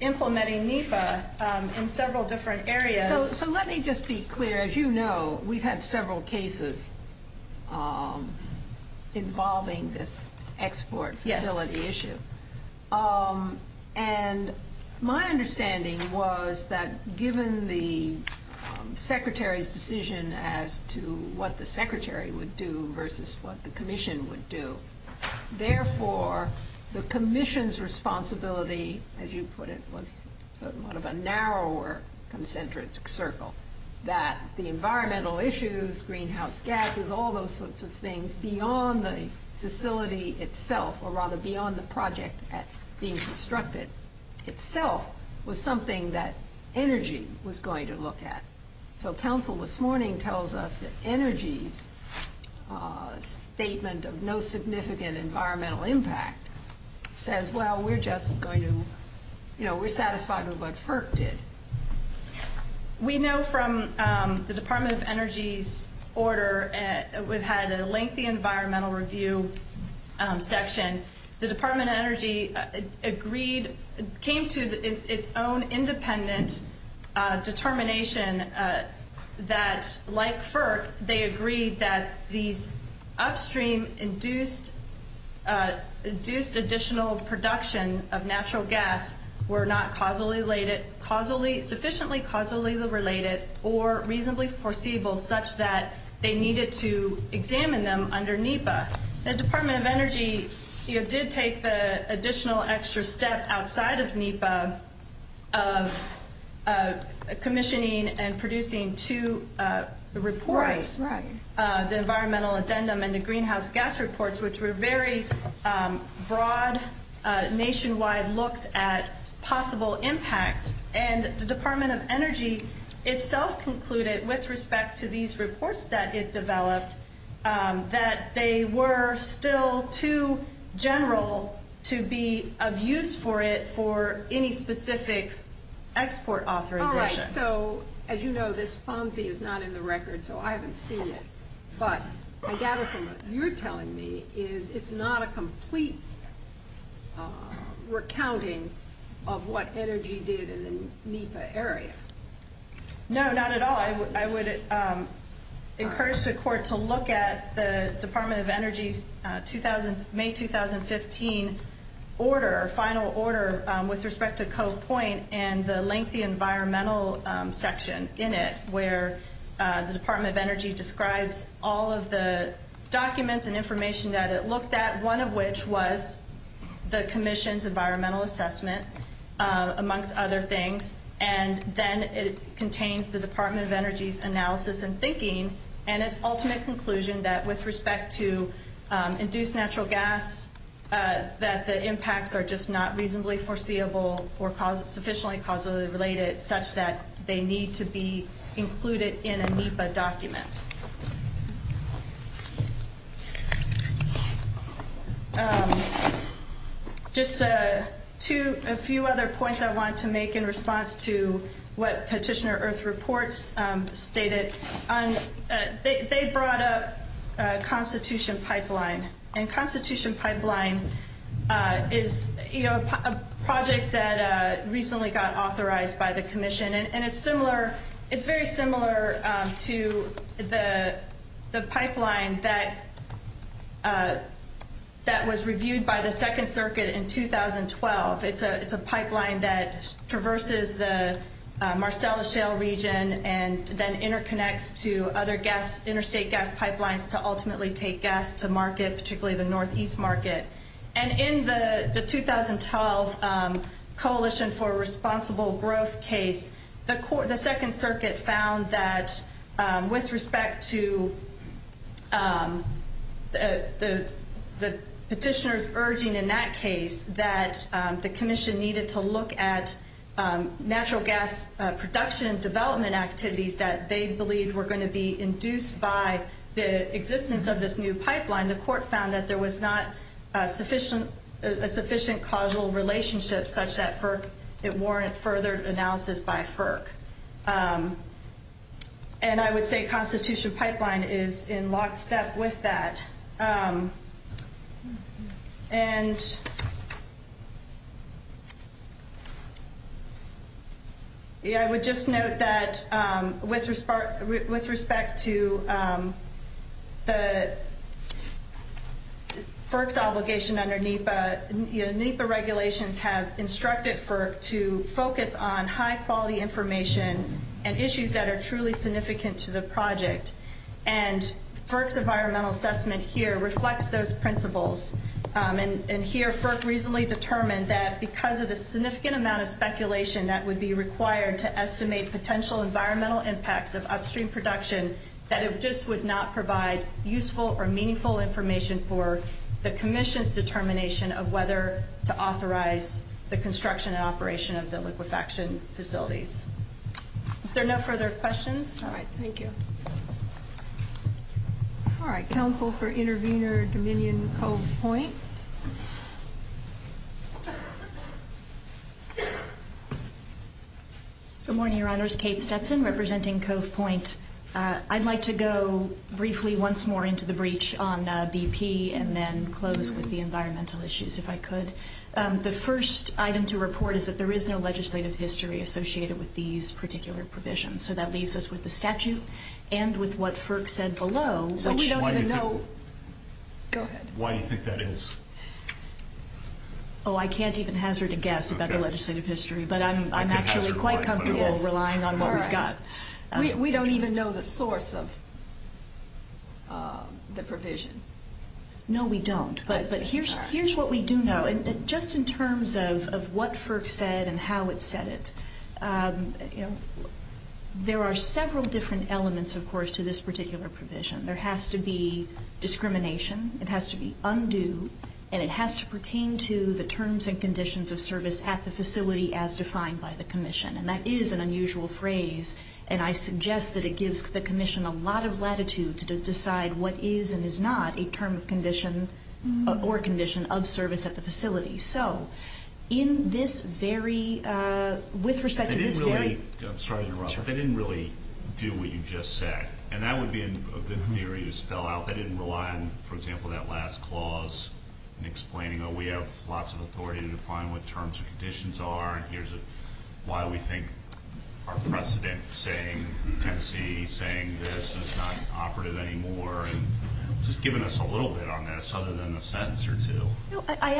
implementing NEPA in several different areas. So let me just be clear. As you know, we've had several cases involving this export facility issue. And my understanding was that given the secretary's decision as to what the secretary would do versus what the commission would do, therefore the commission's responsibility, as you put it, was sort of a narrower concentric circle, that the environmental issues, greenhouse gases, all those sorts of things, beyond the facility itself, or rather beyond the project being constructed itself, was something that ENERGY was going to look at. So council this morning tells us that ENERGY's statement of no significant environmental impact says, well, we're just going to, you know, we're satisfied with what PERC did. We know from the Department of Energy's order, we've had a lengthy environmental review section. The Department of Energy agreed, came to its own independent determination that, like PERC, they agreed that the upstream induced additional production of natural gas were not sufficiently causally related or reasonably foreseeable such that they needed to examine them under NEPA. The Department of Energy did take the additional extra step outside of NEPA of commissioning and producing two reports, the environmental addendum and the greenhouse gas reports, which were very broad, nationwide looks at possible impact. And the Department of Energy itself concluded, with respect to these reports that it developed, that they were still too general to be of use for it for any specific export authorization. All right, so as you know, this FONSI is not in the record, so I haven't seen it. But I'm guessing what you're telling me is it's not a complete recounting of what energy did in the NEPA area. No, not at all. I would encourage the court to look at the Department of Energy's May 2015 order, final order with respect to Code Point and the lengthy environmental section in it where the Department of Energy describes all of the documents and information that it looked at, one of which was the commission's environmental assessment, amongst other things. And then it contains the Department of Energy's analysis and thinking and its ultimate conclusion that, with respect to induced natural gas, that the impacts are just not reasonably foreseeable or sufficiently causally related such that they need to be included in a NEPA document. Just a few other points I wanted to make in response to what Petitioner Earth reports stated. They brought up Constitution Pipeline. And Constitution Pipeline is a project that recently got authorized by the commission, and it's very similar to the pipeline that was reviewed by the Second Circuit in 2012. It's a pipeline that traverses the Marcellus Shale region and then interconnects to other gas, interstate gas pipelines to ultimately take gas to market, particularly the northeast market. And in the 2012 Coalition for Responsible Growth case, the Second Circuit found that with respect to the petitioners urging in that case that the commission needed to look at natural gas production and development activities that they believed were going to be induced by the existence of this new pipeline, the court found that there was not a sufficient causal relationship such that FERC, it warranted further analysis by FERC. And I would say Constitution Pipeline is in lockstep with that. And I would just note that with respect to the FERC's obligation under NEPA, NEPA regulations have instructed FERC to focus on high-quality information and issues that are truly significant to the project. And FERC's environmental assessment here reflects those principles. And here FERC reasonably determined that because of the significant amount of speculation that would be required to estimate potential environmental impacts of upstream production that it just would not provide useful or meaningful information for the commission's determination of whether to authorize the construction and operation of the liquefaction facilities. Is there no further questions? All right. Thank you. All right. Counsel for intervener, Dominion Cove Point. Good morning, Your Honors. Kate Stetson representing Cove Point. I'd like to go briefly once more into the breach on BP and then close with the environmental issues if I could. The first item to report is that there is no legislative history associated with these particular provisions. So that leaves us with the statute and with what FERC said below. Go ahead. Why do you think that is? Oh, I can't even hazard a guess about the legislative history, but I'm actually quite comfortable relying on what we've got. We don't even know the source of the provision. No, we don't. But here's what we do know. Just in terms of what FERC said and how it said it, there are several different elements, of course, to this particular provision. There has to be discrimination, it has to be undue, and it has to pertain to the terms and conditions of service at the facility as defined by the commission. And that is an unusual phrase, and I suggest that it gives the commission a lot of latitude to decide what is and is not a term of condition or condition of service at the facility. So in this very – with respect to this very – I'm sorry to interrupt, but they didn't really do what you just said, and that would be a bit weird to spell out. They didn't rely on, for example, that last clause in explaining, oh, we have lots of authority to define what terms and conditions are, why we think our president is saying this and it's not operative anymore, and just giving us a little bit on this other than a sentence or two. I'm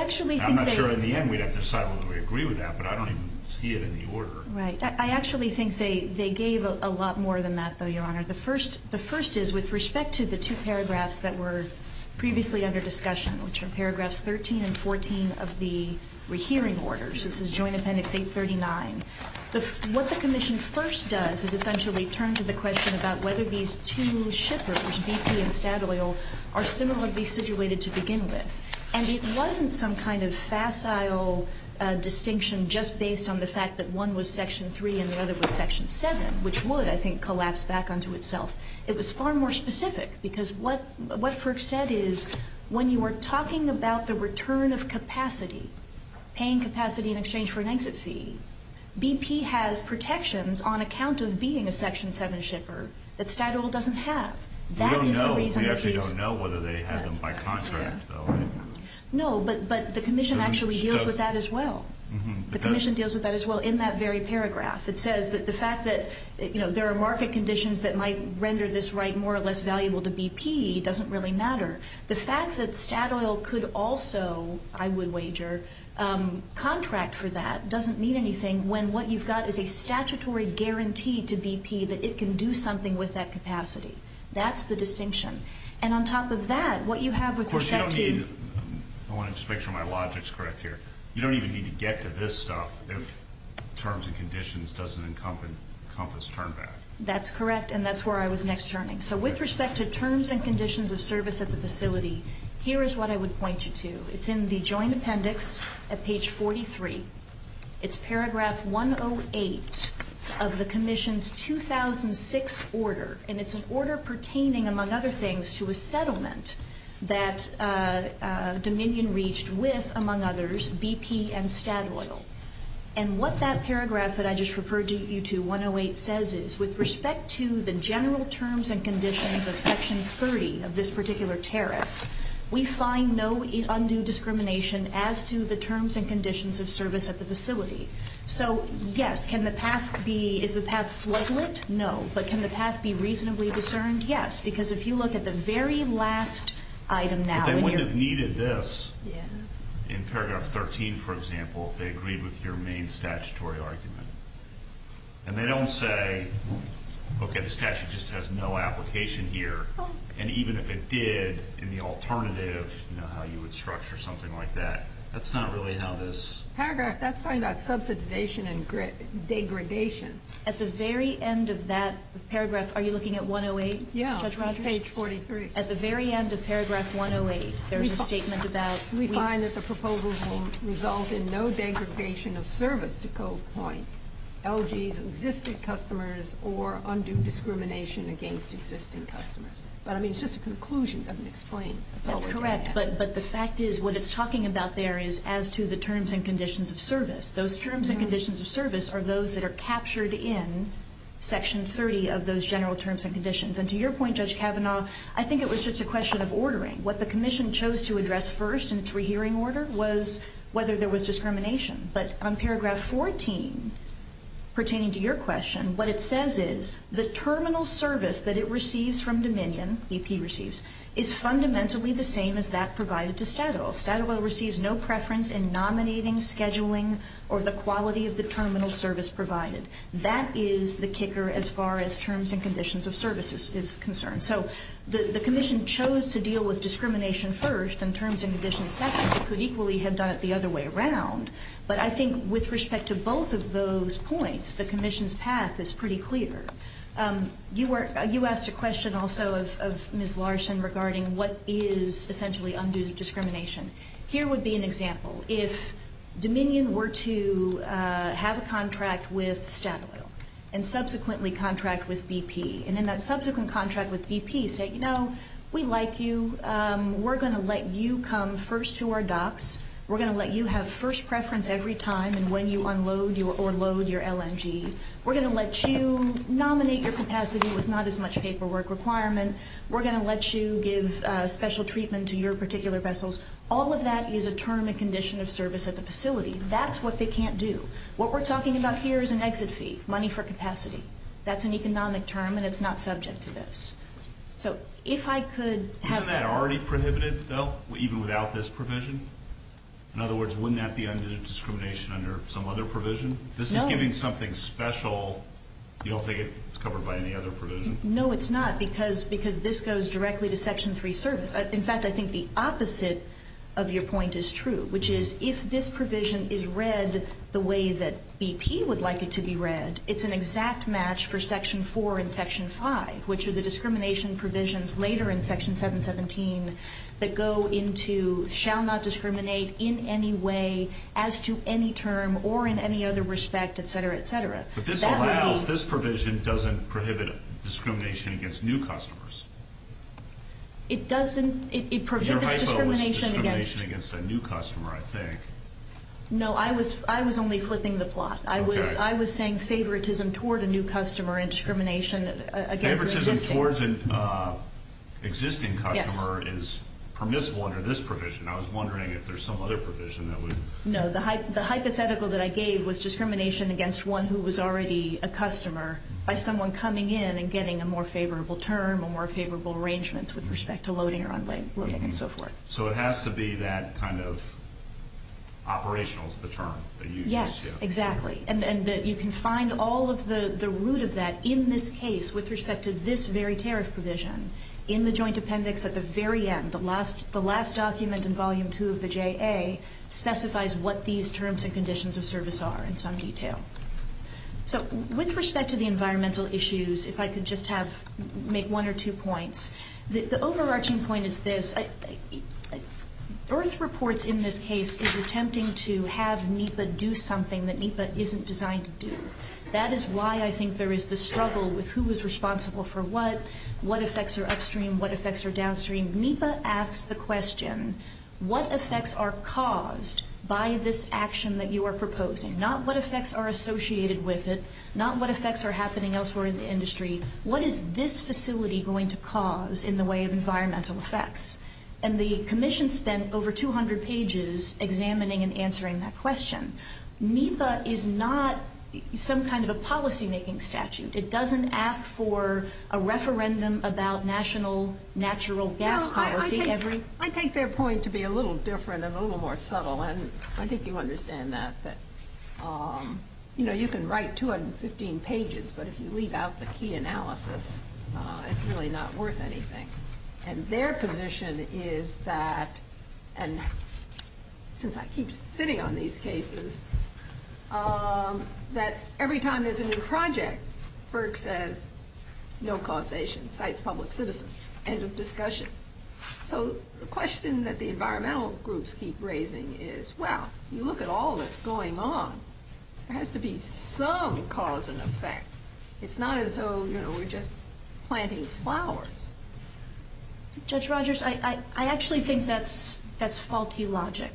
not sure in the end we'd have to decide whether we agree with that, but I don't even see it in the order. Right. I actually think they gave a lot more than that, though, Your Honor. The first is with respect to the two paragraphs that were previously under discussion, which are paragraphs 13 and 14 of the hearing orders, this is Joint Appendix 839. What the Commission first does is essentially turn to the question about whether these two shippers, BP and Statoil, are similarly situated to begin with. And it wasn't some kind of facile distinction just based on the fact that one was Section 3 and the other was Section 7, which would, I think, collapse back onto itself. It was far more specific because what Ferg said is when you are talking about the return of capacity, paying capacity in exchange for an exit fee, BP has protections on account of being a Section 7 shipper that Statoil doesn't have. We don't know. We actually don't know whether they have them by contract, though. No, but the Commission actually deals with that as well. The Commission deals with that as well in that very paragraph. It says that the fact that, you know, there are market conditions that might render this right more or less valuable to BP doesn't really matter. The fact that Statoil could also, I would wager, contract for that doesn't mean anything when what you've got is a statutory guarantee to BP that it can do something with that capacity. That's the distinction. And on top of that, what you have with respect to BP – First of all, I want to make sure my logic is correct here. You don't even need to get to this stuff if terms and conditions doesn't encompass turn back. That's correct, and that's where I was next turning. So with respect to terms and conditions of service at the facility, here is what I would point you to. It's in the joint appendix at page 43. It's paragraph 108 of the Commission's 2006 order, and it's an order pertaining, among other things, to a settlement that Dominion reached with, among others, BP and Statoil. And what that paragraph that I just referred you to, 108, says is, with respect to the general terms and conditions of Section 30 of this particular tariff, we find no undue discrimination as to the terms and conditions of service at the facility. So, yes, can the past be – is the past fledgling? No. But can the past be reasonably discerned? Yes, because if you look at the very last item now – But they wouldn't have needed this in paragraph 13, for example, if they agreed with your main statutory argument. And they don't say, okay, the statute just has no application here. And even if it did, in the alternative, you know, how you would structure something like that. That's not really how this – Paragraph – that's talking about subsidization and degradation. At the very end of that paragraph – are you looking at 108? Yeah, that's right. Page 43. At the very end of paragraph 108, there's a statement about – LG's existing customers or undue discrimination against existing customers. But, I mean, it's just a conclusion. It doesn't explain. That's correct. But the fact is what it's talking about there is as to the terms and conditions of service. Those terms and conditions of service are those that are captured in Section 30 of those general terms and conditions. And to your point, Judge Kavanaugh, I think it was just a question of ordering. What the Commission chose to address first in its rehearing order was whether there was discrimination. But on Paragraph 14, pertaining to your question, what it says is the terminal service that it receives from Dominion – EP receives – is fundamentally the same as that provided to Federal. Federal receives no preference in nominating, scheduling, or the quality of the terminal service provided. That is the kicker as far as terms and conditions of service is concerned. So the Commission chose to deal with discrimination first and terms and conditions second. I could equally hint on it the other way around. But I think with respect to both of those points, the Commission's path is pretty clear. You asked a question also of Ms. Larson regarding what is essentially undue discrimination. Here would be an example. If Dominion were to have a contract with Staple and subsequently contract with BP, and in that subsequent contract with BP say, you know, we like you. We're going to let you come first to our docks. We're going to let you have first preference every time and when you unload or load your LNG. We're going to let you nominate your capacity with not as much paperwork requirement. We're going to let you give special treatment to your particular vessels. All of that is a term and condition of service at the facility. That's what they can't do. What we're talking about here is an exit fee, money for capacity. That's an economic term, and it's not subject to this. So if I could have... Isn't that already prohibited, though, even without this provision? In other words, wouldn't that be undue discrimination under some other provision? No. This is giving something special. You don't think it's covered by any other provision? No, it's not because this goes directly to Section 3 service. In fact, I think the opposite of your point is true, which is if this provision is read the way that BP would like it to be read, it's an exact match for Section 4 and Section 5, which are the discrimination provisions later in Section 717 that go into shall not discriminate in any way as to any term or in any other respect, et cetera, et cetera. But this provision doesn't prohibit discrimination against new customers. It prevents discrimination against... Your hypo was discrimination against a new customer, I think. No, I was only flipping the plot. I was saying favoritism toward a new customer and discrimination... Favoritism towards an existing customer is permissible under this provision. I was wondering if there's some other provision that would... No. The hypothetical that I gave was discrimination against one who was already a customer by someone coming in and getting a more favorable term or more favorable arrangements with respect to loading or unloading and so forth. So it has to be that kind of operational for the term that you just said. Exactly. And you can find all of the root of that in this case with respect to this very tariff provision in the joint appendix at the very end, the last document in Volume 2 of the JA specifies what these terms and conditions of service are in some detail. So with respect to the environmental issues, if I could just make one or two points. The overarching point is this. EARTH reports in this case is attempting to have NEPA do something that NEPA isn't designed to do. That is why I think there is the struggle with who is responsible for what, what effects are upstream, what effects are downstream. NEPA asks the question, what effects are caused by this action that you are proposing? Not what effects are associated with it, not what effects are happening elsewhere in the industry. What is this facility going to cause in the way of environmental effects? And the Commission spent over 200 pages examining and answering that question. NEPA is not some kind of a policymaking statute. It doesn't ask for a referendum about national natural gas policy. I take their point to be a little different and a little more subtle, and I think you understand that. You can write 215 pages, but if you leave out the key analysis, it's really not worth anything. And their position is that, and since I keep sitting on these cases, that every time there's a new project, FERC says no causation, cites public citizens, end of discussion. So the question that the environmental groups keep raising is, well, you look at all that's going on, there has to be some cause and effect. It's not as though we're just planting flowers. Judge Rogers, I actually think that's faulty logic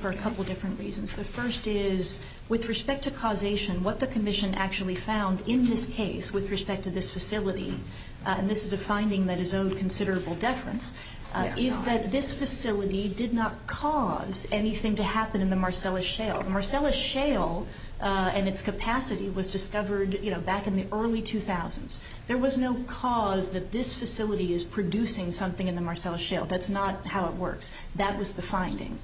for a couple different reasons. The first is, with respect to causation, what the Commission actually found in this case, with respect to this facility, and this is a finding that is of considerable deference, is that this facility did not cause anything to happen in the Marcellus Shale. The Marcellus Shale and its capacity was discovered back in the early 2000s. There was no cause that this facility is producing something in the Marcellus Shale. That's not how it works. That was the finding.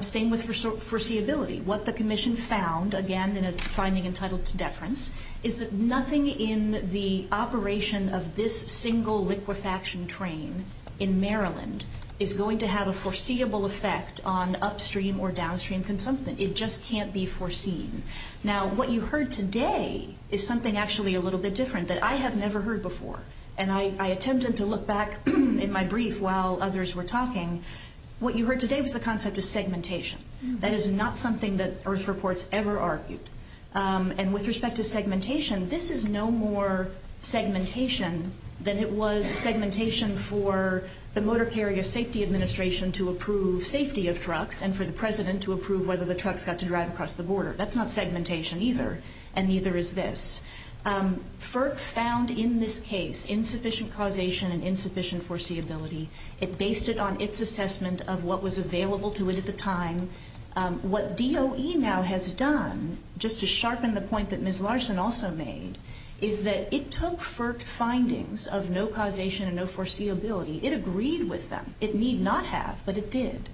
Same with foreseeability. What the Commission found, again, in its finding entitled to deference, is that nothing in the operation of this single liquefaction train in Maryland is going to have a foreseeable effect on upstream or downstream consumption. It just can't be foreseen. Now, what you heard today is something actually a little bit different that I have never heard before, and I attempted to look back in my brief while others were talking. What you heard today was the concept of segmentation. That is not something that Earth Reports ever argued. And with respect to segmentation, this is no more segmentation than it was segmentation for the Motor Carrier Safety Administration to approve safety of trucks and for the President to approve whether the trucks got to drive across the border. That's not segmentation either, and neither is this. FERC found in this case insufficient causation and insufficient foreseeability. It based it on its assessment of what was available to it at the time. What DOE now has done, just to sharpen the point that Ms. Larson also made, is that it took FERC's findings of no causation and no foreseeability. It agreed with them. It need not have, but it did.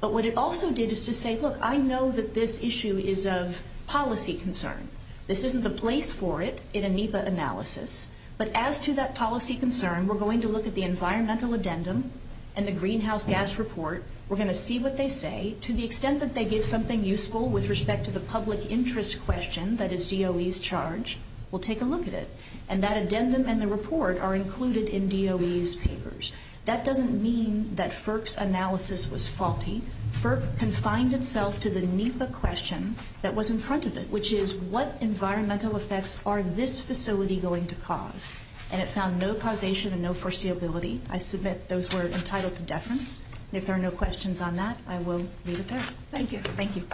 But what it also did is to say, look, I know that this issue is of policy concern. This isn't the place for it in a NEPA analysis, but as to that policy concern, we're going to look at the Environmental Addendum and the Greenhouse Gas Report. We're going to see what they say. To the extent that they gave something useful with respect to the public interest question, that is DOE's charge, we'll take a look at it. And that addendum and the report are included in DOE's papers. That doesn't mean that FERC's analysis was faulty. FERC confined itself to the NEPA question that was in front of it, which is what environmental effects are this facility going to cause? And it found no causation and no foreseeability. I submit those were entitled to deference. And if there are no questions on that, I will leave it there. Thank you. Thank you.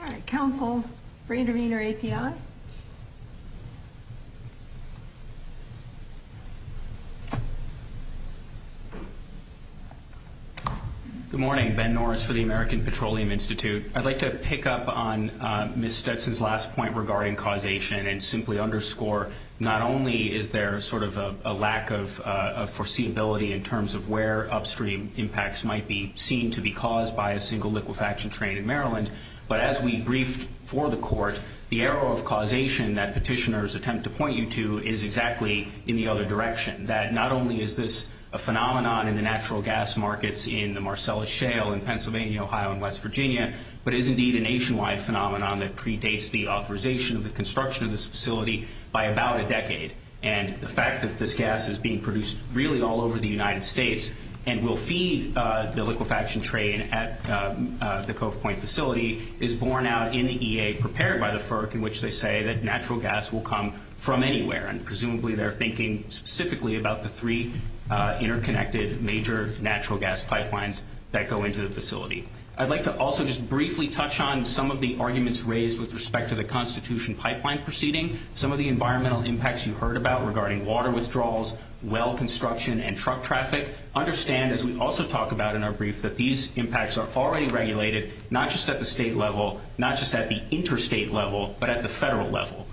All right, Council, Brandon Wiener, API. Good morning. Ben Norris for the American Petroleum Institute. I'd like to pick up on Ms. Stetson's last point regarding causation and simply underscore not only is there sort of a lack of foreseeability in terms of where upstream impacts might be seen to be caused by a single liquefaction train in Maryland, but as we briefed for the Court, the arrow of causation that petitioners attempt to point you to is exactly in the other direction, that not only is this a phenomenon in the natural gas markets in the Marcellus Shale in Pennsylvania, Ohio, and West Virginia, but is indeed a nationwide phenomenon that predates the authorization of the construction of this facility by about a decade. And the fact that this gas is being produced really all over the United States and will feed the liquefaction train at the Cove Point facility is borne out in the EA prepared by the FERC, in which they say that natural gas will come from anywhere. And presumably they're thinking specifically about the three interconnected major natural gas pipelines that go into the facility. I'd like to also just briefly touch on some of the arguments raised with respect to the Constitution pipeline proceeding, some of the environmental impacts you heard about regarding water withdrawals, well construction, and truck traffic. Understand, as we also talk about in our brief, that these impacts are already regulated not just at the state level, not just at the interstate level, but at the federal level.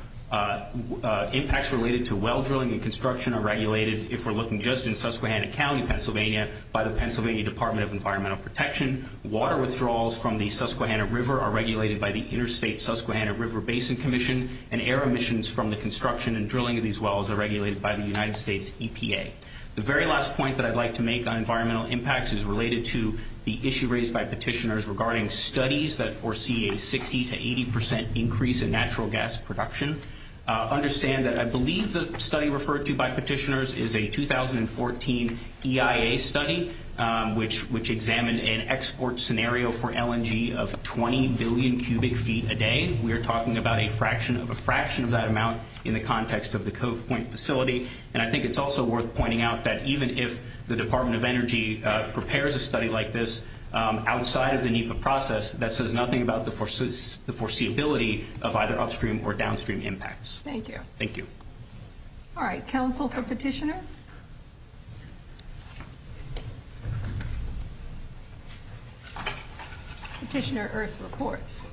Impacts related to well drilling and construction are regulated, if we're looking just in Susquehanna County, Pennsylvania, by the Pennsylvania Department of Environmental Protection. Water withdrawals from the Susquehanna River are regulated by the Interstate Susquehanna River Basin Commission, and air emissions from the construction and drilling of these wells are regulated by the United States EPA. The very last point that I'd like to make on environmental impacts is related to the issue raised by petitioners regarding studies that foresee a 60% to 80% increase in natural gas production. Understand that I believe the study referred to by petitioners is a 2014 EIA study, which examined an export scenario for LNG of 20 billion cubic feet a day. We are talking about a fraction of that amount in the context of the Coat Point facility, and I think it's also worth pointing out that even if the Department of Energy prepares a study like this, outside of the NEPA process, that says nothing about the foreseeability of either upstream or downstream impacts. Thank you. Thank you. All right. Counsel for petitioner? Petitioner, Earth Reports.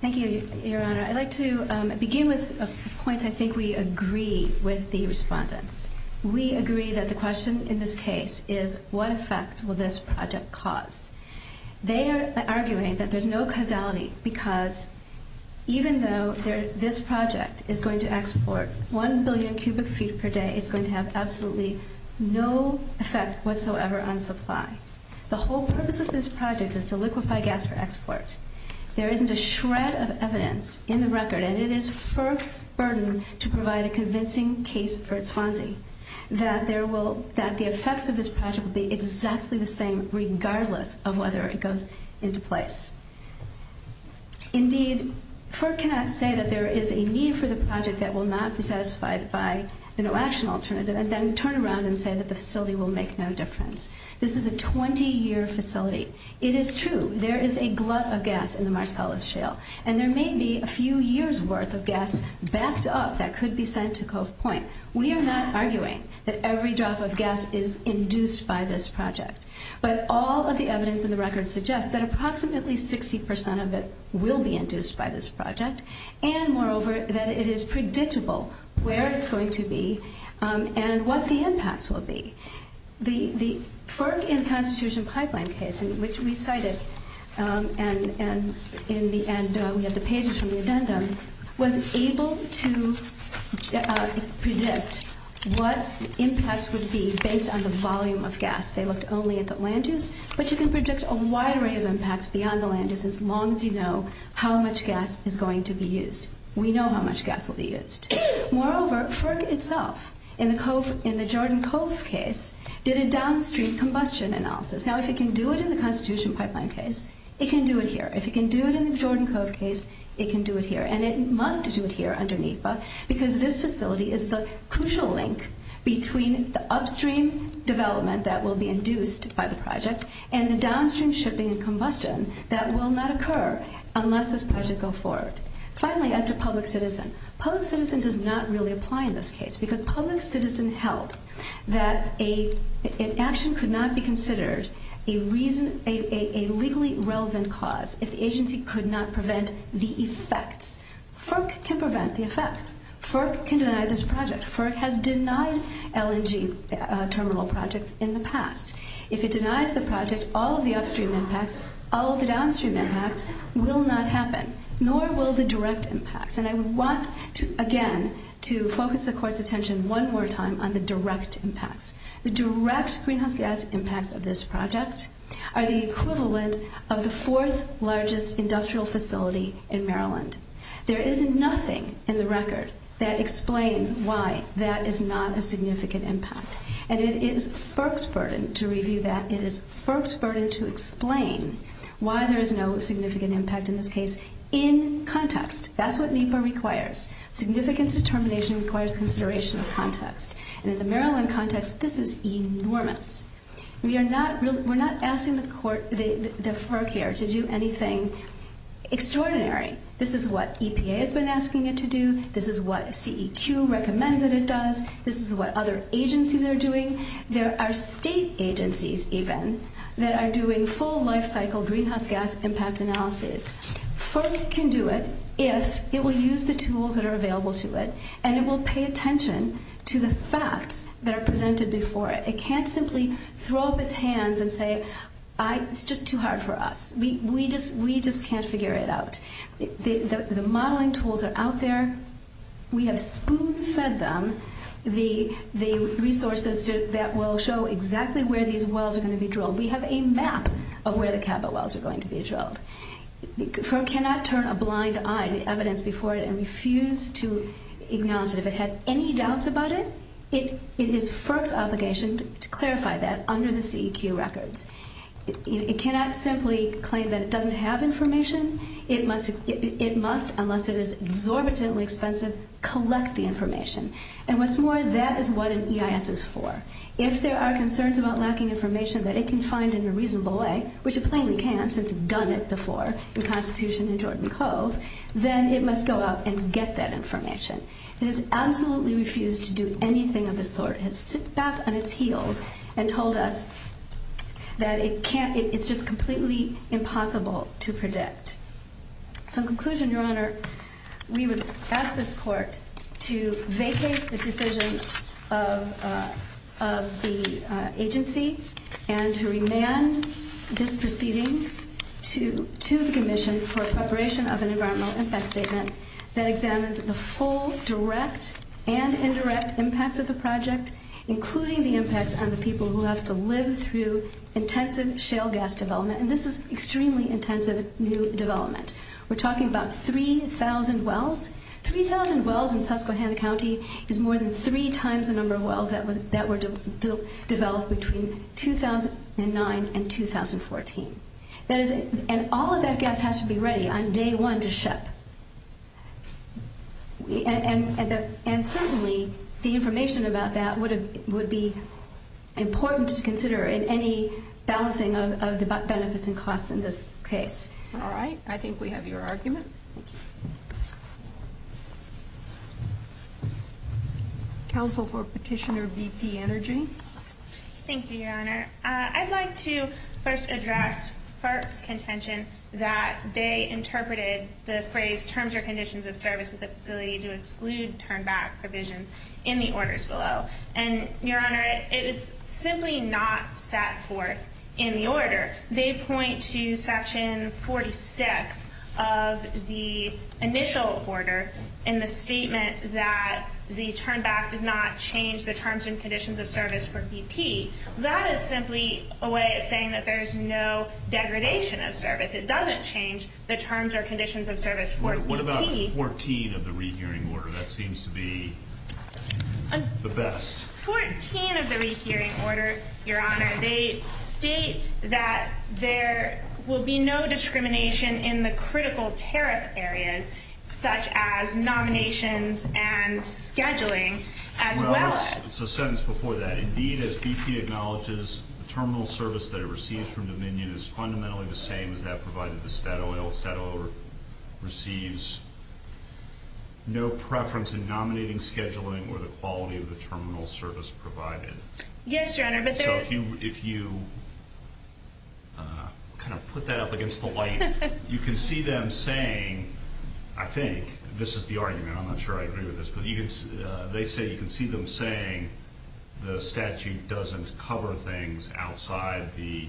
Thank you, Your Honor. I'd like to begin with a point I think we agree with the respondents. We agree that the question in this case is what effect will this project cause? They are arguing that there's no causality because even though this project is going to export 1 billion cubic feet per day, it's going to have absolutely no effect whatsoever on supply. The whole purpose of this project is to liquefy gas for export. There isn't a shred of evidence in the record, and it is FERC's burden to provide a convincing case for its funding, that the effects of this project will be exactly the same regardless of whether it goes into place. Indeed, FERC cannot say that there is a need for the project that will not be satisfied by an election alternative and then turn around and say that the facility will make no difference. This is a 20-year facility. It is true. There is a glut of gas in the Marcellus Shale, and there may be a few years' worth of gas backed up that could be sent to Coast Point. We are not arguing that every drop of gas is induced by this project, but all of the evidence in the record suggests that approximately 60 percent of it will be induced by this project and, moreover, that it is predictable where it's going to be and what the impacts will be. The FERC and Constitution Pipeline case, which we cited in the pages from the addendum, was able to predict what the impacts would be based on the volume of gas. They looked only at the land use, but you can predict a wide range of impacts beyond the land use as long as you know how much gas is going to be used. We know how much gas will be used. Moreover, FERC itself, in the Jordan Cove case, did a downstream combustion analysis. Now, if it can do it in the Constitution Pipeline case, it can do it here. If it can do it in the Jordan Cove case, it can do it here, and it must do it here under NEPA because this facility is the crucial link between the upstream development that will be induced by this project and the downstream shipping and combustion that will not occur unless this project goes forward. Finally, as a public citizen, public citizen does not really apply in this case because public citizen held that an action could not be considered a legally relevant cause if the agency could not prevent the effect. FERC can prevent the effect. FERC can deny this project. FERC has denied LNG terminal projects in the past. If it denies the project, all of the upstream impacts, all of the downstream impacts, will not happen, nor will the direct impacts. And I want, again, to focus the Court's attention one more time on the direct impacts. The direct greenhouse gas impacts of this project are the equivalent of the fourth largest industrial facility in Maryland. There is nothing in the record that explains why that is not a significant impact, and it is FERC's burden to review that. It is FERC's burden to explain why there is no significant impact in this case in context. That's what NEPA requires. Significant determination requires consideration of context. And in the Maryland context, this is enormous. We are not asking the FERC here to do anything extraordinary. This is what EPA has been asking it to do. This is what CEQ recommends that it does. This is what other agencies are doing. There are state agencies, even, that are doing full life cycle greenhouse gas impact analyses. FERC can do it if it will use the tools that are available to it, and it will pay attention to the facts that are presented before it. It can't simply throw up its hands and say, it's just too hard for us. We just can't figure it out. The modeling tools are out there. We have spoon-fed them the resources that will show exactly where these wells are going to be drilled. We have a map of where the capitol wells are going to be drilled. FERC cannot turn a blind eye to the evidence before it and refuse to acknowledge that if it has any doubts about it, it is FERC's obligation to clarify that under the CEQ records. It cannot simply claim that it doesn't have information. It must, unless it is exorbitantly expensive, collect the information. And what's more, that is what an EIS is for. If there are concerns about lacking information that it can find in a reasonable way, which it plainly can since it's done it before the Constitution and Jordan Codes, then it must go out and get that information. It has absolutely refused to do anything of the sort. It has sat back on its heels and told us that it's just completely impossible to predict. So in conclusion, Your Honor, we would ask this Court to vacate the decision of the agency and to remand this proceeding to the Commission for preparation of an environmental impact statement that examines the full direct and indirect impacts of the project, including the impact on the people who have to live through intensive shale gas development. And this is extremely intensive new development. We're talking about 3,000 wells. Three thousand wells in Susquehanna County is more than three times the number of wells that were developed between 2009 and 2014. And all of that gas has to be ready on day one to ship. And certainly the information about that would be important to consider in any balancing of benefits and costs in this case. All right. I think we have your argument. Counsel for Petitioner BP Energy. Thank you, Your Honor. I'd like to first address Clark's contention that they interpreted the phrase terms or conditions of service with the ability to exclude turn-back provisions in the orders below. And, Your Honor, it is simply not that court in the order. They point to Section 46 of the initial order in the statement that the turn-back did not change the terms and conditions of service for BP. That is simply a way of saying that there is no degradation of service. It doesn't change the terms or conditions of service for BP. What about 14 of the rehearing order? That seems to be the best. 14 of the rehearing order, Your Honor, they state that there will be no discrimination in the critical tariff areas such as nominations and scheduling as well as… BP acknowledges the terminal service that it receives from Dominion is fundamentally the same as that provided the Statoil. Statoil receives no preference in nominating, scheduling, or the quality of the terminal service provided. Yes, Your Honor. So if you kind of put that up against the light, you can see them saying, I think, this is the argument. I'm not sure I agree with this. They say you can see them saying the statute doesn't cover things outside the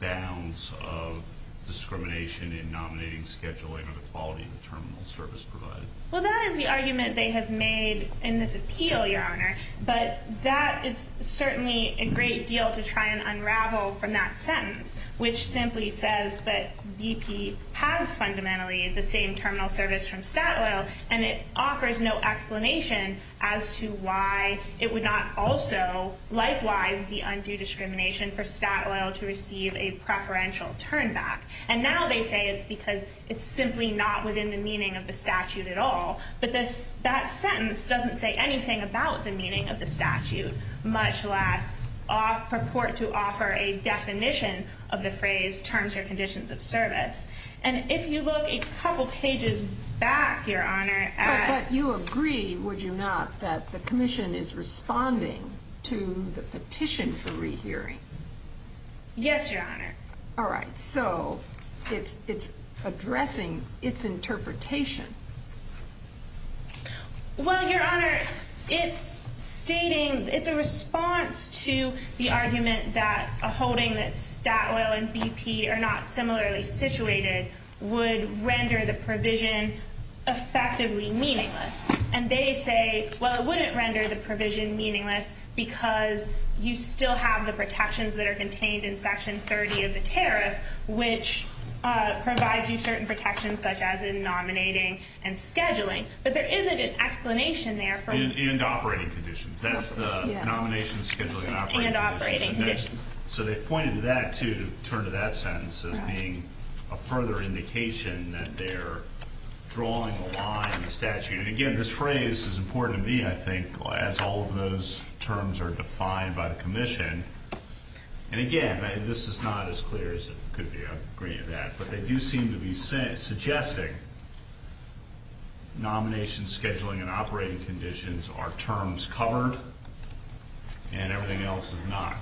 bounds of discrimination in nominating, scheduling, or the quality of the terminal service provided. Well, that is the argument they have made in this appeal, Your Honor. But that is certainly a great deal to try and unravel from that sentence, which simply says that BP has fundamentally the same terminal service from Statoil, and it offers no explanation as to why it would not also, likewise, be undue discrimination for Statoil to receive a preferential turn back. And now they say it's because it's simply not within the meaning of the statute at all. But that sentence doesn't say anything about the meaning of the statute, much less purport to offer a definition of the phrase terms or conditions of service. And if you look a couple pages back, Your Honor. But you agree, would you not, that the commission is responding to the petition for rehearing? Yes, Your Honor. All right. So it's addressing its interpretation. Well, Your Honor, it's a response to the argument that a holding that Statoil and BP are not similarly situated would render the provision effectively meaningless. And they say, well, it wouldn't render the provision meaningless because you still have the protections that are contained in Section 30 of the tariff, which provides you certain protections, such as in nominating and scheduling. But there isn't an explanation there. In the operating condition. That's the nomination, scheduling, and operating conditions. So they pointed to that, too, to turn to that sentence as being a further indication that they're drawing the line in the statute. And, again, this phrase is important to me, I think, as all of those terms are defined by the commission. And, again, this is not as clear as it could be. I agree with that. But they do seem to be suggesting nomination, scheduling, and operating conditions are terms covered and everything else is not.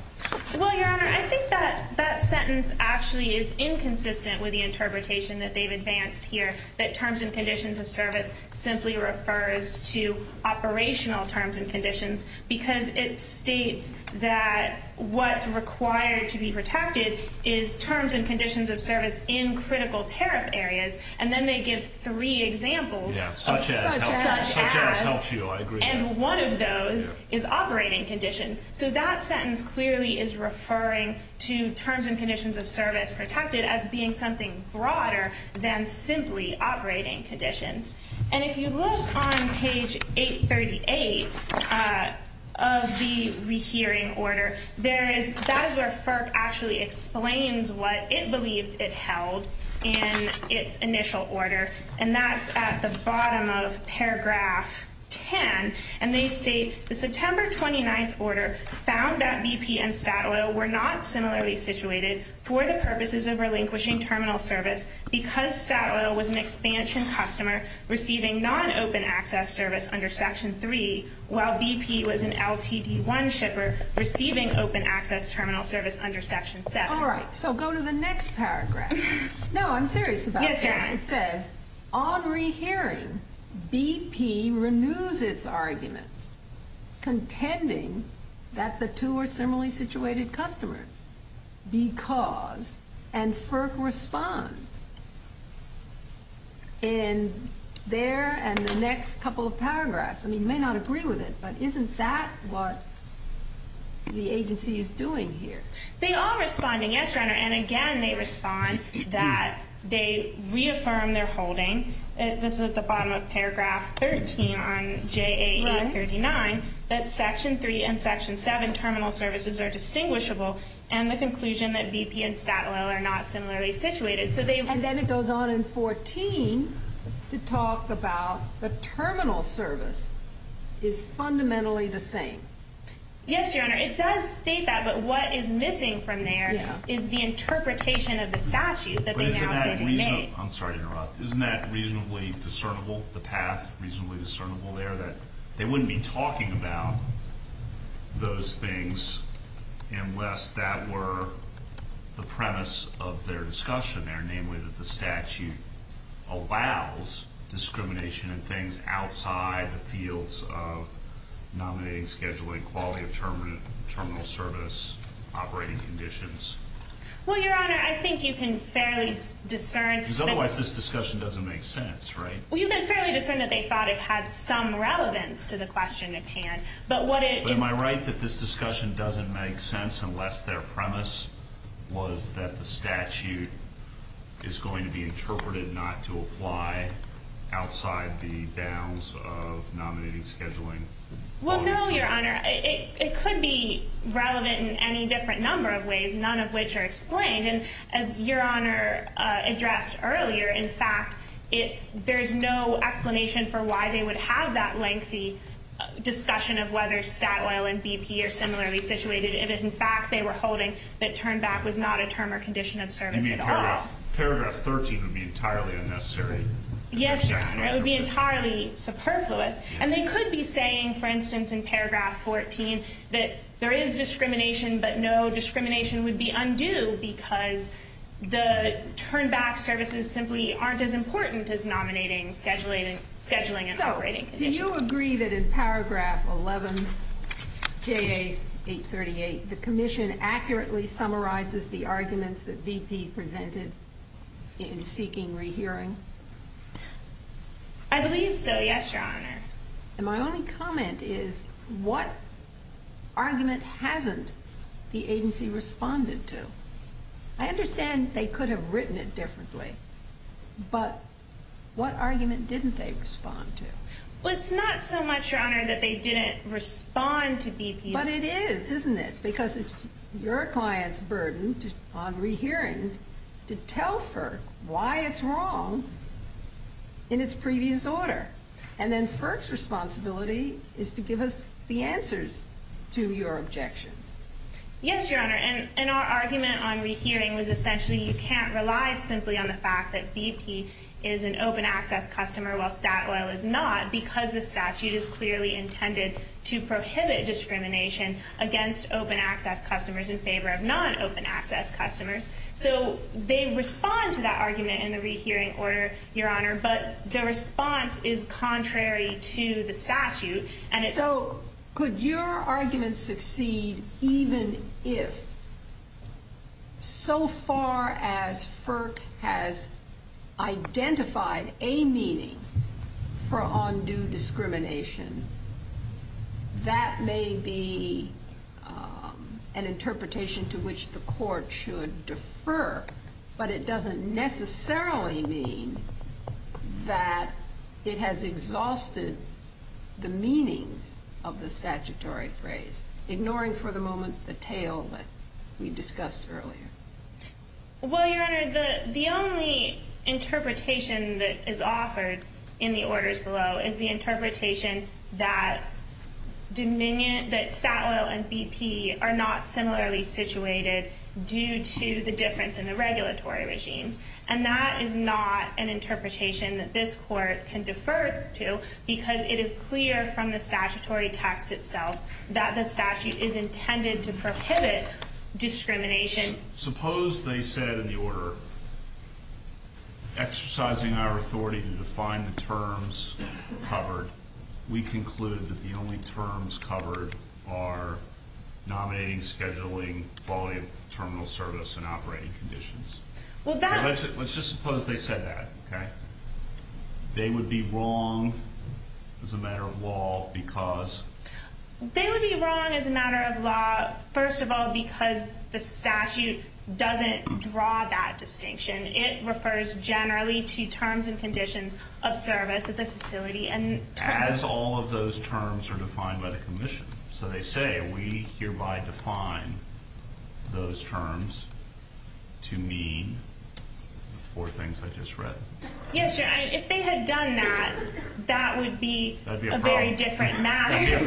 Well, Your Honor, I think that sentence actually is inconsistent with the interpretation that they've advanced here, that terms and conditions of service simply refers to operational terms and conditions because it states that what's required to be protected is terms and conditions of service in critical tariff areas. And then they give three examples. Yeah, such as. Such as. Such as helps you. I agree. And one of those is operating conditions. So that sentence clearly is referring to terms and conditions of service protected as being something broader than simply operating conditions. And if you look on page 838 of the rehearing order, that is where FERC actually explains what it believes it held in its initial order, and that's at the bottom of paragraph 10. And they state, the September 29th order found that BP and SPATOIL were not similarly situated for the purposes of relinquishing terminal service because SPATOIL was an expansion customer receiving non-open access service under Section 3, while BP was an LTD1 shipper receiving open access terminal service under Section 7. All right. So go to the next paragraph. No, I'm serious about that. Yes, your Honor. It says, on rehearing, BP renews its argument contending that the two were similarly situated customers because, and FERC responds in there and the next couple of paragraphs. I mean, you may not agree with it, but isn't that what the agency is doing here? They are responding, yes, your Honor. And again, they respond that they reaffirm their holding, this is the bottom of paragraph 13 on JAE39, that Section 3 and Section 7 terminal services are distinguishable and the conclusion that BP and SPATOIL are not similarly situated. And then it goes on in 14 to talk about the terminal service is fundamentally the same. Yes, your Honor. It does state that, but what is missing from there is the interpretation of the statute that they now need to make. I'm sorry to interrupt. Isn't that reasonably discernible, the path reasonably discernible there, that they wouldn't be talking about those things unless that were the premise of their discussion there, namely that the statute allows discrimination and things outside the fields of nominating, scheduling, quality of terminal service, operating conditions? Well, your Honor, I think you can fairly discern... Because otherwise this discussion doesn't make sense, right? Well, you can fairly discern that they thought it had some relevance to the question at hand, but what it... But am I right that this discussion doesn't make sense unless their premise was that the statute is going to be interpreted not to apply outside the bounds of nominating, scheduling? Well, no, your Honor. It could be relevant in any different number of ways, none of which are explained. And as your Honor addressed earlier, in fact, there's no explanation for why they would have that lengthy discussion of whether stat oil and BP are similarly situated. It is, in fact, they were holding that turn back was not a term or condition of service at all. I mean, paragraph 13 would be entirely unnecessary. Yes, your Honor. It would be entirely superfluous. And they could be saying, for instance, in paragraph 14, that there is discrimination, but no discrimination would be undue because the turn back services simply aren't as important as nominating, scheduling, and operating conditions. Do you agree that in paragraph 11, J.A. 838, the commission accurately summarizes the arguments that BP presented in seeking rehearing? I believe so, yes, your Honor. And my only comment is what argument hasn't the agency responded to? I understand they could have written it differently, but what argument didn't they respond to? Well, it's not so much, your Honor, that they didn't respond to BP. But it is, isn't it? Because it's your client's burden on rehearing to tell FERC why it's wrong in its previous order. And then FERC's responsibility is to give us the answers to your objection. Yes, your Honor. And our argument on rehearing was essentially you can't rely simply on the fact that BP is an open access customer, while Statoil is not, because the statute is clearly intended to prohibit discrimination against open access customers in favor of non-open access customers. So they respond to that argument in the rehearing order, your Honor, but the response is contrary to the statute. So could your argument succeed even if, so far as FERC has identified a meaning for undue discrimination, that may be an interpretation to which the court should defer, but it doesn't necessarily mean that it has exhausted the meaning of the statutory phrase, ignoring for the moment the tail that we discussed earlier? Well, your Honor, the only interpretation that is offered in the orders below is the interpretation that Dominion, that Statoil and BP are not similarly situated due to the difference in the regulatory regime. And that is not an interpretation that this court can defer to, because it is clear from the statutory text itself that the statute is intended to prohibit discrimination. Suppose they said in the order, exercising our authority to define the terms covered, we conclude that the only terms covered are nominating, scheduling, quality of terminal service and operating conditions. Let's just suppose they said that, okay? They would be wrong as a matter of law because... They would be wrong as a matter of law, first of all, because the statute doesn't draw that distinction. It refers generally to terms and conditions of service at the facility and... As all of those terms are defined by the commission. So they say we hereby define those terms to mean four things I just read. Yes, Your Honor, if they had done that, that would be a very different matter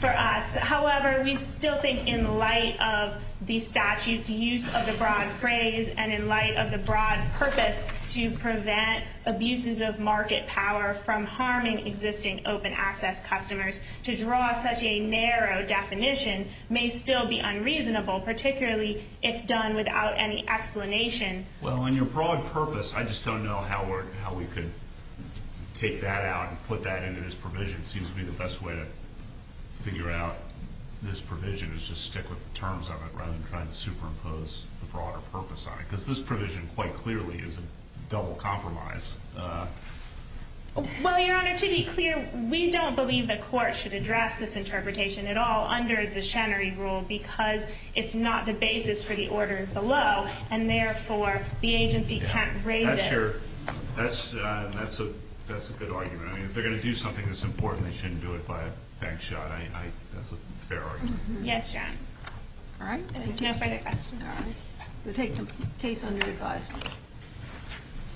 for us. However, we still think in light of the statute's use of the broad phrase and in light of the broad purpose to prevent abuses of market power from harming existing open access customers, to draw such a narrow definition may still be unreasonable, particularly if done without any explanation. Well, in your broad purpose, I just don't know how we could take that out and put that into this provision. It seems to be the best way to figure out this provision is just stick with the terms of it rather than trying to superimpose the broader purpose on it. Because this provision quite clearly is a double compromise. Well, Your Honor, to be clear, we don't believe the court should address this interpretation at all under the Shannery rule because it's not the basis for the orders below, and therefore the agency can't raise it. That's a good argument. If they're going to do something that's important, they shouldn't do it by a bank shot. That's a fair argument. Yes, Your Honor. All right. All right. We'll take them under the guise.